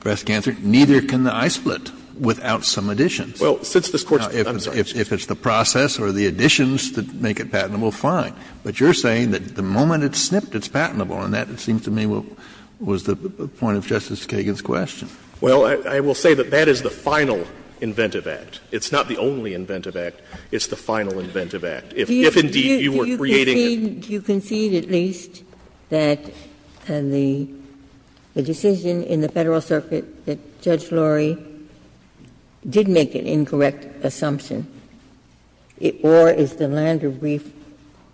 breast cancer, neither can the I-split without some additions. Well, since this Court's, I'm sorry. Now, if it's the process or the additions that make it patentable, fine. But you're saying that the moment it's snipped, it's patentable, and that, it seems to me, was the point of Justice Kagan's question. Well, I will say that that is the final inventive act. It's not the only inventive act. It's the final inventive act. If indeed you were creating a new patentable product, it's not patentable. Do you concede, at least, that the decision in the Federal Circuit that Judge Lurie did make an incorrect assumption, or is the Lander brief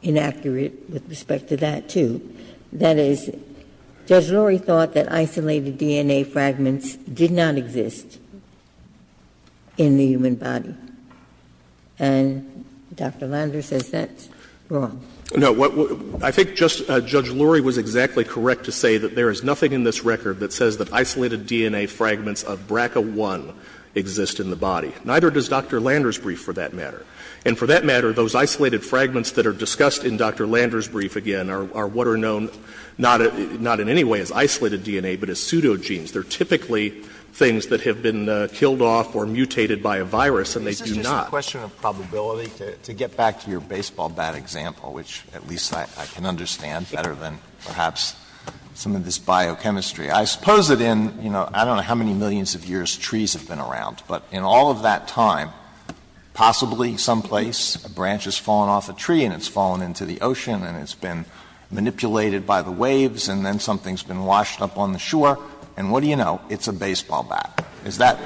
inaccurate with respect to that, too? That is, Judge Lurie thought that isolated DNA fragments did not exist in the human body. And Dr. Lander says that's wrong. No. I think Judge Lurie was exactly correct to say that there is nothing in this record that says that isolated DNA fragments of BRCA1 exist in the body. Neither does Dr. Lander's brief, for that matter. And for that matter, those isolated fragments that are discussed in Dr. Lander's brief are known not in any way as isolated DNA, but as pseudogenes. They are typically things that have been killed off or mutated by a virus, and they do not. Alito, this is just a question of probability. To get back to your baseball bat example, which at least I can understand better than perhaps some of this biochemistry, I suppose that in, you know, I don't know how many millions of years trees have been around, but in all of that time, possibly someplace, a branch has fallen off a tree and it's fallen into the ocean and it's been manipulated by the waves, and then something's been washed up on the shore, and what do you know, it's a baseball bat. Is that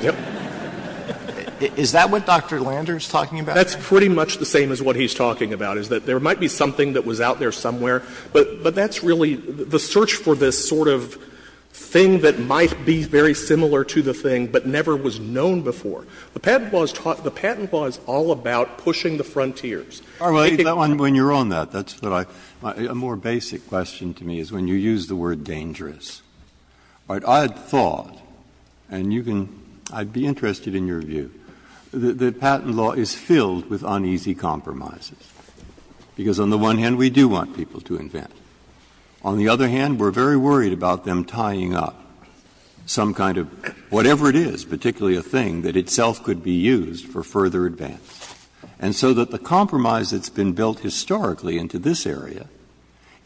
what Dr. Lander is talking about? That's pretty much the same as what he's talking about, is that there might be something that was out there somewhere, but that's really the search for this sort of thing that might be very similar to the thing but never was known before. The patent law is all about pushing the frontiers. Breyer, when you're on that, that's what I — a more basic question to me is when you use the word dangerous. All right. I had thought, and you can — I'd be interested in your view, that patent law is filled with uneasy compromises, because on the one hand, we do want people to invent. On the other hand, we're very worried about them tying up some kind of — whatever it is, particularly a thing that itself could be used for further advance. And so that the compromise that's been built historically into this area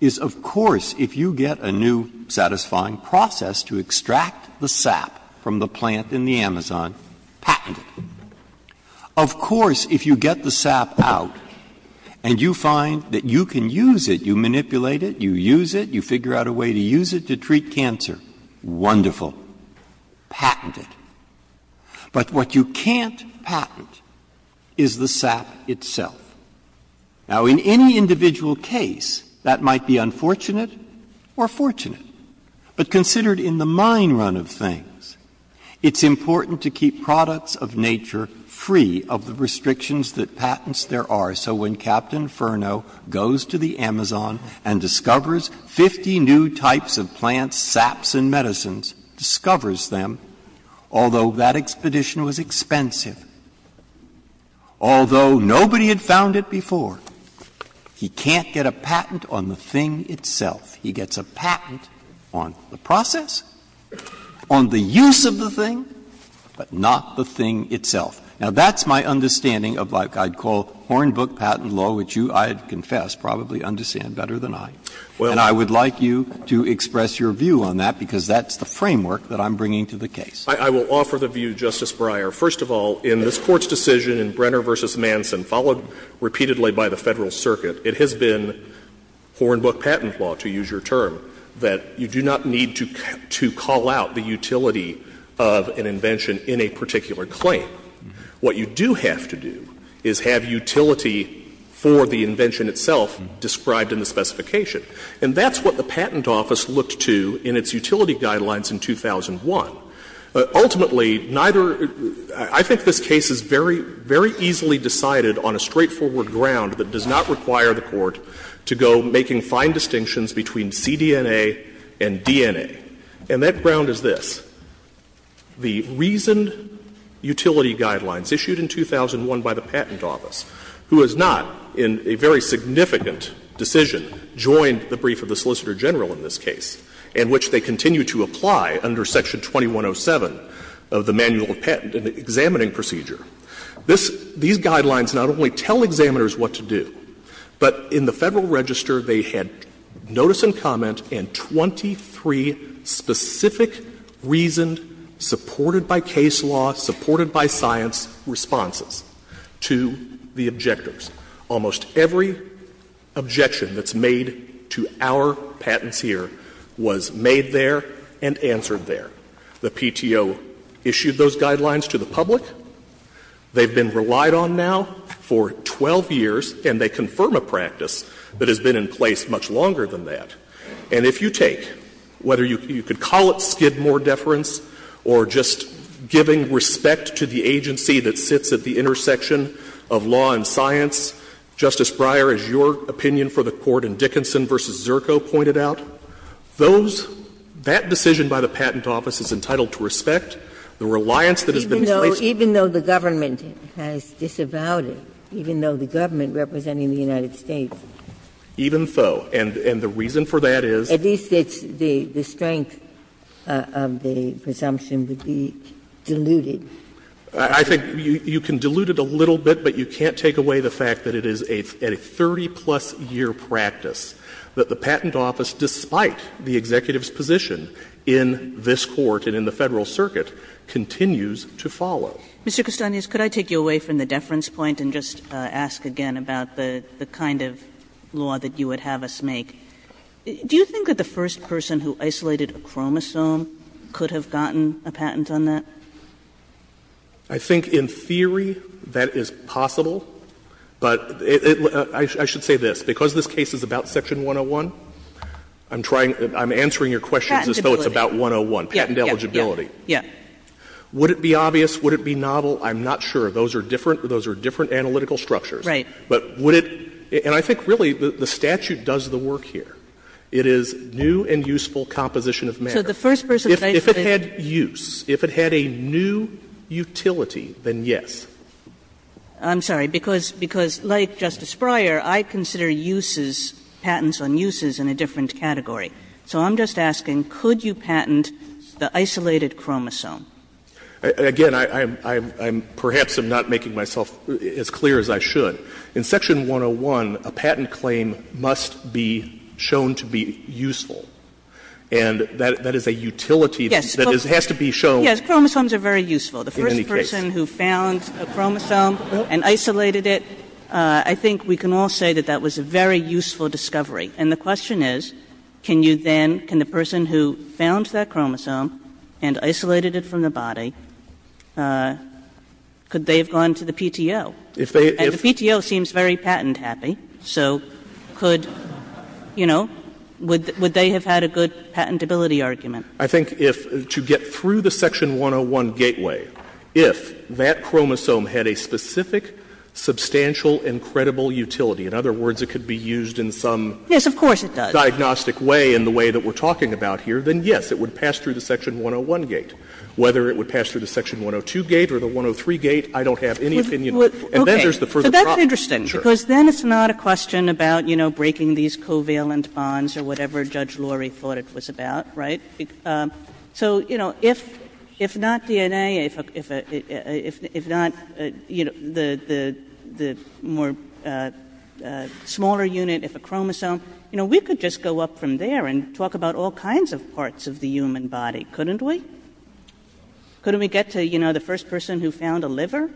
is, of course, if you get a new satisfying process to extract the sap from the plant in the Amazon, patent it. Of course, if you get the sap out and you find that you can use it, you manipulate it, you use it, you figure out a way to use it to treat cancer, wonderful. Patent it. But what you can't patent is the sap itself. Now, in any individual case, that might be unfortunate or fortunate. But considered in the mine run of things, it's important to keep products of nature free of the restrictions that patents there are. So when Captain Furnow goes to the Amazon and discovers 50 new types of plants, saps and medicines, discovers them, although that expedition was expensive, although nobody had found it before, he can't get a patent on the thing itself. He gets a patent on the process, on the use of the thing, but not the thing itself. Now, that's my understanding of what I'd call Hornbook patent law, which you, I confess, probably understand better than I. And I would like you to express your view on that, because that's the framework that I'm bringing to the case. I will offer the view, Justice Breyer. First of all, in this Court's decision in Brenner v. Manson, followed repeatedly by the Federal Circuit, it has been Hornbook patent law, to use your term, that you do not need to call out the utility of an invention in a particular claim. What you do have to do is have utility for the invention itself described in the specification. And that's what the Patent Office looked to in its utility guidelines in 2001. Ultimately, neither — I think this case is very, very easily decided on a straightforward ground that does not require the Court to go making fine distinctions between cDNA and DNA. And that ground is this. The reasoned utility guidelines issued in 2001 by the Patent Office, who is not in a very significant decision, joined the brief of the Solicitor General in this case, in which they continue to apply under Section 2107 of the Manual of Patent, an examining procedure. This — these guidelines not only tell examiners what to do, but in the Federal Register, they had notice and comment and 23 specific reasoned, supported by case law, supported by science, responses to the objectors. Almost every objection that's made to our patenteer was made there and answered there. The PTO issued those guidelines to the public. They've been relied on now for 12 years, and they confirm a practice that has been in place much longer than that. And if you take, whether you could call it skid more deference or just giving respect to the agency that sits at the intersection of law and science, Justice Breyer, as your opinion for the Court in Dickinson v. Zirko pointed out, those — that decision by the Patent Office is entitled to respect the reliance that has been placed on it. Ginsburg. Even though the government has disavowed it, even though the government representing the United States. Even so. And the reason for that is? At least it's the strength of the presumption would be diluted. I think you can dilute it a little bit, but you can't take away the fact that it is a 30-plus-year practice that the Patent Office, despite the executive's position in this Court and in the Federal Circuit, continues to follow. Kagan. Mr. Kustanius, could I take you away from the deference point and just ask again about the kind of law that you would have us make? Do you think that the first person who isolated a chromosome could have gotten a patent on that? I think in theory that is possible, but it — I should say this. Because this case is about Section 101, I'm trying — I'm answering your questions as though it's about 101. Patent eligibility. Yeah. Would it be obvious? Would it be novel? I'm not sure. Those are different. Those are different analytical structures. Right. But would it — and I think, really, the statute does the work here. It is new and useful composition of matter. So the first person who isolated it — If it had use, if it had a new utility, then yes. I'm sorry. Because like Justice Breyer, I consider uses, patents on uses, in a different category. So I'm just asking, could you patent the isolated chromosome? Again, I'm — perhaps I'm not making myself as clear as I should. In Section 101, a patent claim must be shown to be useful. And that is a utility that's used. That has to be shown. Yes. Chromosomes are very useful. In any case. The first person who found a chromosome and isolated it, I think we can all say that that was a very useful discovery. And the question is, can you then — can the person who found that chromosome and isolated it from the body, could they have gone to the PTO? If they — if — And the PTO seems very patent-happy, so could — you know, would they have had a good patentability argument? I think if — to get through the Section 101 gateway, if that chromosome had a specific, substantial, and credible utility — in other words, it could be used in some — Yes, of course it does. — diagnostic way in the way that we're talking about here, then yes, it would pass through the Section 101 gate. Whether it would pass through the Section 102 gate or the 103 gate, I don't have any opinion on. And then there's the further problem. Okay. So that's interesting. Because then it's not a question about, you know, breaking these covalent bonds or whatever Judge Laurie thought it was about, right? So, you know, if not DNA, if not, you know, the more smaller unit, if a chromosome, you know, we could just go up from there and talk about all kinds of parts of the human body, couldn't we? Couldn't we get to, you know, the first person who found a liver?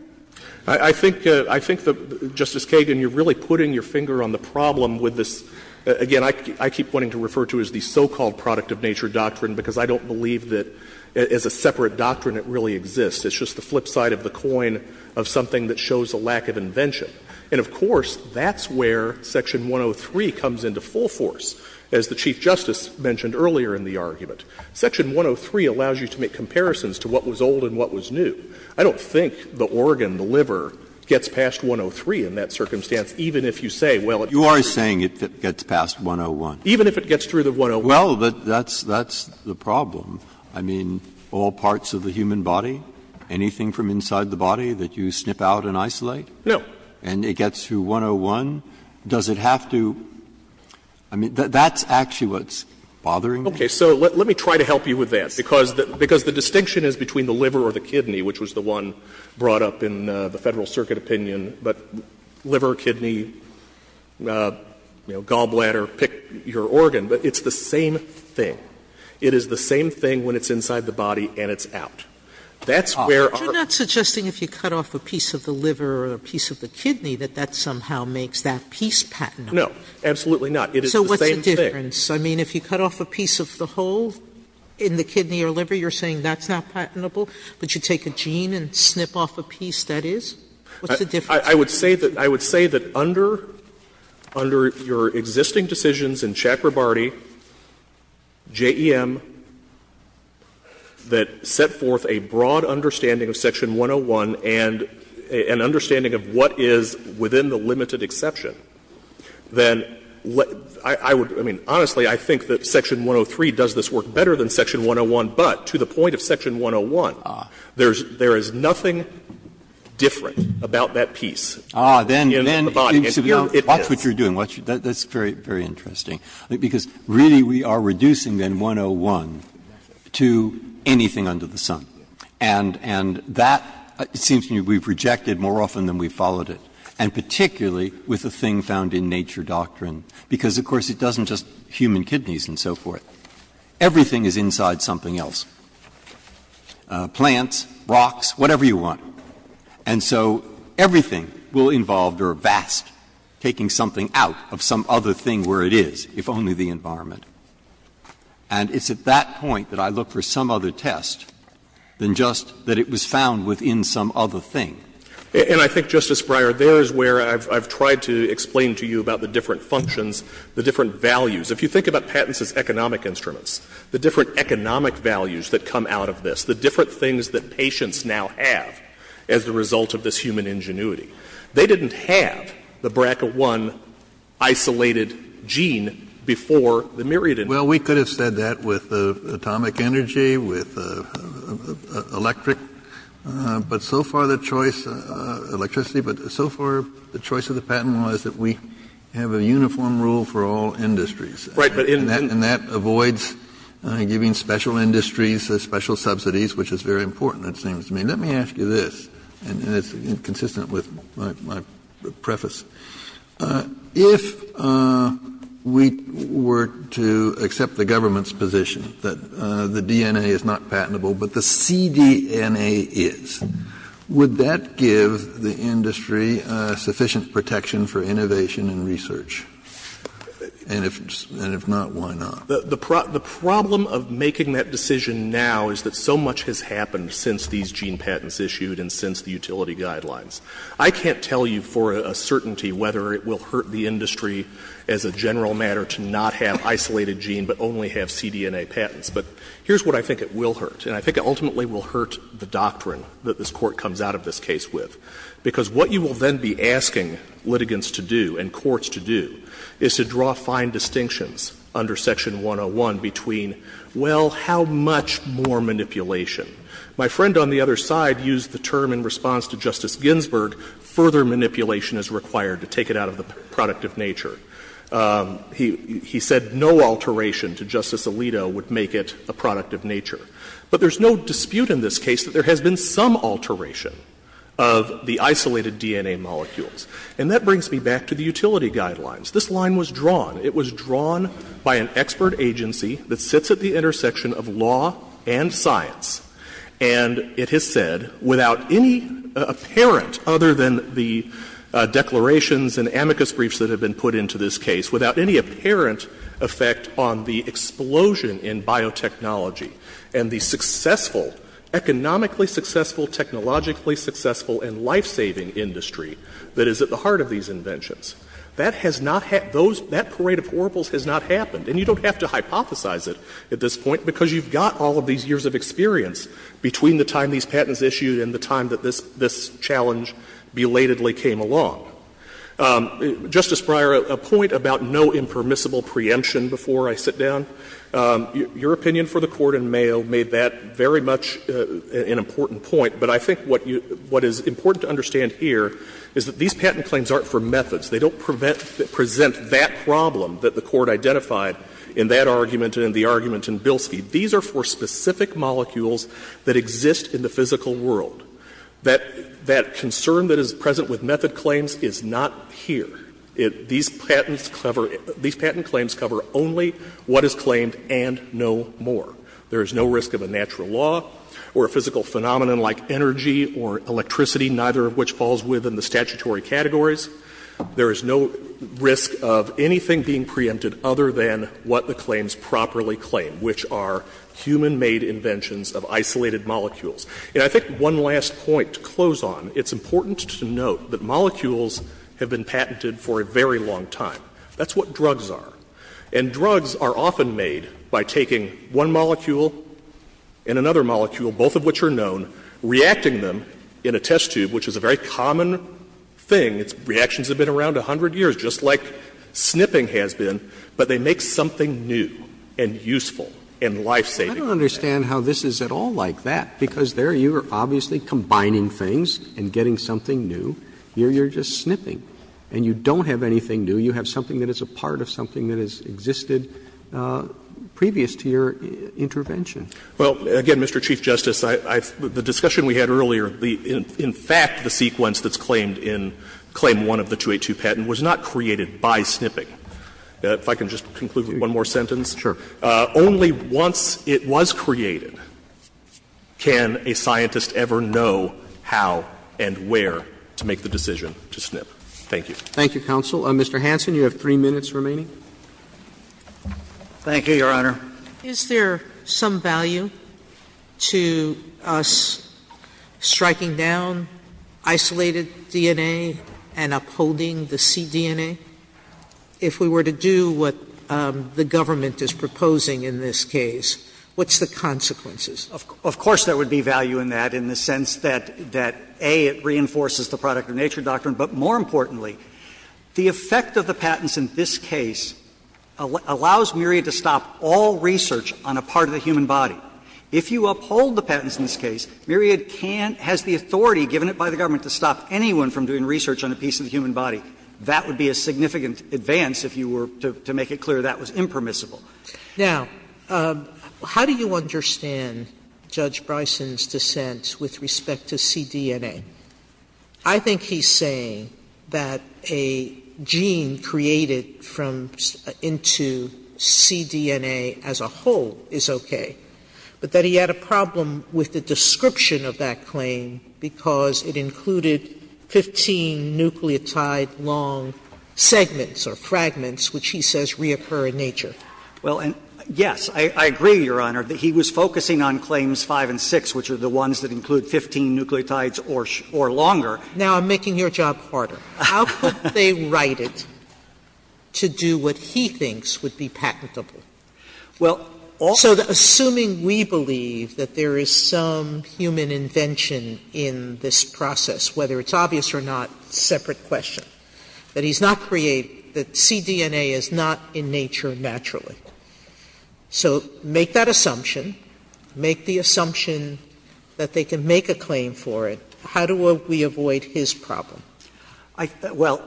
I think — I think that, Justice Kagan, you're really putting your finger on the problem with this — again, I keep wanting to refer to it as the so-called product-of-nature doctrine, because I don't believe that as a separate doctrine it really exists. It's just the flip side of the coin of something that shows a lack of invention. And, of course, that's where Section 103 comes into full force, as the Chief Justice mentioned earlier in the argument. Section 103 allows you to make comparisons to what was old and what was new. I don't think the organ, the liver, gets past 103 in that circumstance, even if you say, well, it's through the 101. Breyer, you are saying it gets past 101. Even if it gets through the 101. Well, but that's the problem. I mean, all parts of the human body, anything from inside the body that you snip out and isolate? No. And it gets through 101? Does it have to — I mean, that's actually what's bothering me. Okay. So let me try to help you with that, because the distinction is between the liver or the kidney, which was the one brought up in the Federal Circuit opinion, but liver, kidney, you know, gallbladder, pick your organ. But it's the same thing. It is the same thing when it's inside the body and it's out. That's where our — Aren't you not suggesting if you cut off a piece of the liver or a piece of the kidney that that somehow makes that piece patentable? No. Absolutely not. It is the same thing. So what's the difference? I mean, if you cut off a piece of the whole in the kidney or liver, you're saying that's not patentable? But you take a gene and snip off a piece that is? What's the difference? I would say that under your existing decisions in Chakrabarty J.E.M. that set forth a broad understanding of Section 101 and an understanding of what is within the limited exception, then I would — I mean, honestly, I think that Section 103 does this work better than Section 101, but to the point of Section 101, there is nothing different about that piece in the body. And here it is. Watch what you're doing. That's very, very interesting. Because really we are reducing then 101 to anything under the sun. And that seems to me we've rejected more often than we've followed it, and particularly with the thing found in nature doctrine, because of course it doesn't just human kidneys and so forth. Everything is inside something else, plants, rocks, whatever you want. And so everything will involve or avast taking something out of some other thing where it is, if only the environment. And it's at that point that I look for some other test than just that it was found within some other thing. And I think, Justice Breyer, there is where I've tried to explain to you about the different functions, the different values. If you think about patents as economic instruments, the different economic values that come out of this, the different things that patients now have as a result of this human ingenuity, they didn't have the BRCA-1 isolated gene before the Myriad invention. Kennedy, well, we could have said that with atomic energy, with electric, but so far the choice, electricity, but so far the choice of the patent was that we have a uniform rule for all industries. Right. And that avoids giving special industries special subsidies, which is very important, it seems to me. Let me ask you this, and it's consistent with my preface. If we were to accept the government's position that the DNA is not patentable, but the cDNA is, would that give the industry sufficient protection for innovation and research? And if not, why not? The problem of making that decision now is that so much has happened since these gene patents issued and since the utility guidelines. I can't tell you for a certainty whether it will hurt the industry as a general matter to not have isolated gene, but only have cDNA patents. But here's what I think it will hurt, and I think it ultimately will hurt the doctrine that this Court comes out of this case with, because what you will then be asking litigants to do and courts to do is to draw fine distinctions under Section 101 between, well, how much more manipulation. My friend on the other side used the term in response to Justice Ginsburg, further manipulation is required to take it out of the product of nature. He said no alteration to Justice Alito would make it a product of nature. But there's no dispute in this case that there has been some alteration of the isolated DNA molecules. And that brings me back to the utility guidelines. This line was drawn. It was drawn by an expert agency that sits at the intersection of law and science. And it has said, without any apparent, other than the declarations and amicus briefs that have been put into this case, without any apparent effect on the explosion in biotechnology and the successful, economically successful, technologically successful and life-saving industry that is at the heart of these inventions. That has not had those — that parade of oracles has not happened. And you don't have to hypothesize it at this point, because you've got all of these years of experience between the time these patents issued and the time that this challenge belatedly came along. Justice Breyer, a point about no impermissible preemption before I sit down, your opinion for the Court in Mayo made that very much an important point. But I think what you — what is important to understand here is that these patent claims aren't for methods. They don't present that problem that the Court identified in that argument and in the argument in Bilski. These are for specific molecules that exist in the physical world. That concern that is present with method claims is not here. These patents cover — these patent claims cover only what is claimed and no more. There is no risk of a natural law or a physical phenomenon like energy or electricity, neither of which falls within the statutory categories. There is no risk of anything being preempted other than what the claims properly claim, which are human-made inventions of isolated molecules. And I think one last point to close on, it's important to note that molecules have been patented for a very long time. That's what drugs are. And drugs are often made by taking one molecule and another molecule, both of which are known, reacting them in a test tube, which is a very common thing. Its reactions have been around 100 years, just like snipping has been. But they make something new and useful and life-saving. Roberts. I don't understand how this is at all like that, because there you are obviously combining things and getting something new. Here you are just snipping. And you don't have anything new. You have something that is a part of something that has existed previous to your intervention. Well, again, Mr. Chief Justice, the discussion we had earlier, in fact, the sequence that's claimed in Claim 1 of the 282 patent was not created by snipping. If I can just conclude with one more sentence. Sure. Only once it was created can a scientist ever know how and where to make the decision to snip. Thank you. Thank you, counsel. Mr. Hanson, you have three minutes remaining. Thank you, Your Honor. Is there some value to us striking down isolated DNA and upholding the cDNA? If we were to do what the government is proposing in this case, what's the consequences? Of course there would be value in that in the sense that, A, it reinforces the product-of-nature doctrine, but more importantly, the effect of the patents in this case allows Myriad to stop all research on a part of the human body. If you uphold the patents in this case, Myriad can't, has the authority given it by the government to stop anyone from doing research on a piece of the human body. That would be a significant advance if you were to make it clear that was impermissible. Now, how do you understand Judge Bryson's dissent with respect to cDNA? I think he's saying that a gene created from into cDNA as a whole is okay, but that he had a problem with the description of that claim because it included 15 nucleotide long segments or fragments which he says reoccur in nature. Well, yes, I agree, Your Honor, that he was focusing on claims 5 and 6, which are the ones that include 15 nucleotides or longer. Now, I'm making your job harder. How could they write it to do what he thinks would be patentable? Well, also the assuming we believe that there is some human invention in this process, whether it's obvious or not, separate question, that he's not creating, that cDNA is not in nature naturally. So make that assumption, make the assumption that they can make a claim for it. How do we avoid his problem? Well,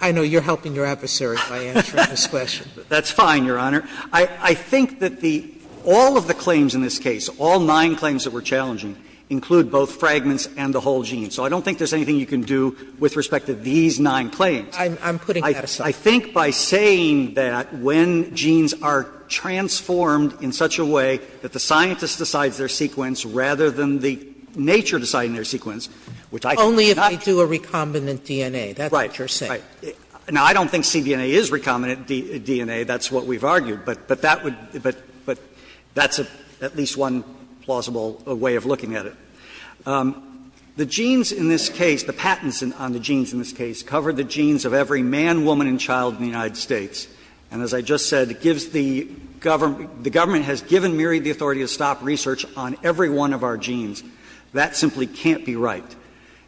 I know you're helping your adversary by answering this question. That's fine, Your Honor. I think that the all of the claims in this case, all nine claims that were challenging, include both fragments and the whole gene. So I don't think there's anything you can do with respect to these nine claims. I'm putting that aside. I think by saying that when genes are transformed in such a way that the scientist decides their sequence rather than the nature deciding their sequence, which I think is not true. Sotomayor Only if they do a recombinant DNA. That's what you're saying. Right. Now, I don't think cDNA is recombinant DNA. That's what we've argued. But that would be at least one plausible way of looking at it. The genes in this case, the patents on the genes in this case, cover the genes of every man, woman, and child in the United States. And as I just said, it gives the government the government has given Murie the authority to stop research on every one of our genes. That simply can't be right.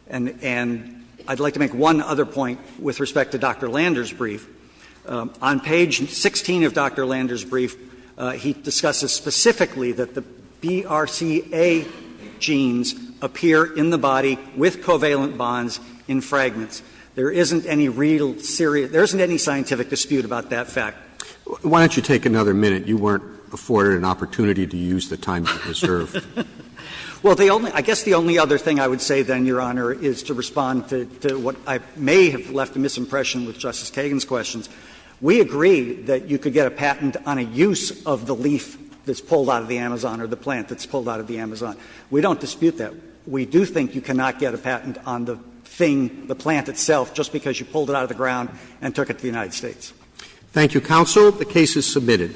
And I'd like to make one other point with respect to Dr. Lander's brief. On page 16 of Dr. Lander's brief, he discusses specifically that the BRCA genes appear in the body with covalent bonds in fragments. There isn't any real serious – there isn't any scientific dispute about that fact. Roberts Why don't you take another minute? You weren't afforded an opportunity to use the time you've reserved. Lander Well, the only – I guess the only other thing I would say, then, Your Honor, is to respond to what I may have left a misimpression with Justice Kagan's questions. We agree that you could get a patent on a use of the leaf that's pulled out of the Amazon or the plant that's pulled out of the Amazon. We don't dispute that. We do think you cannot get a patent on the thing, the plant itself, just because you pulled it out of the ground and took it to the United States. Roberts Thank you, counsel. The case is submitted.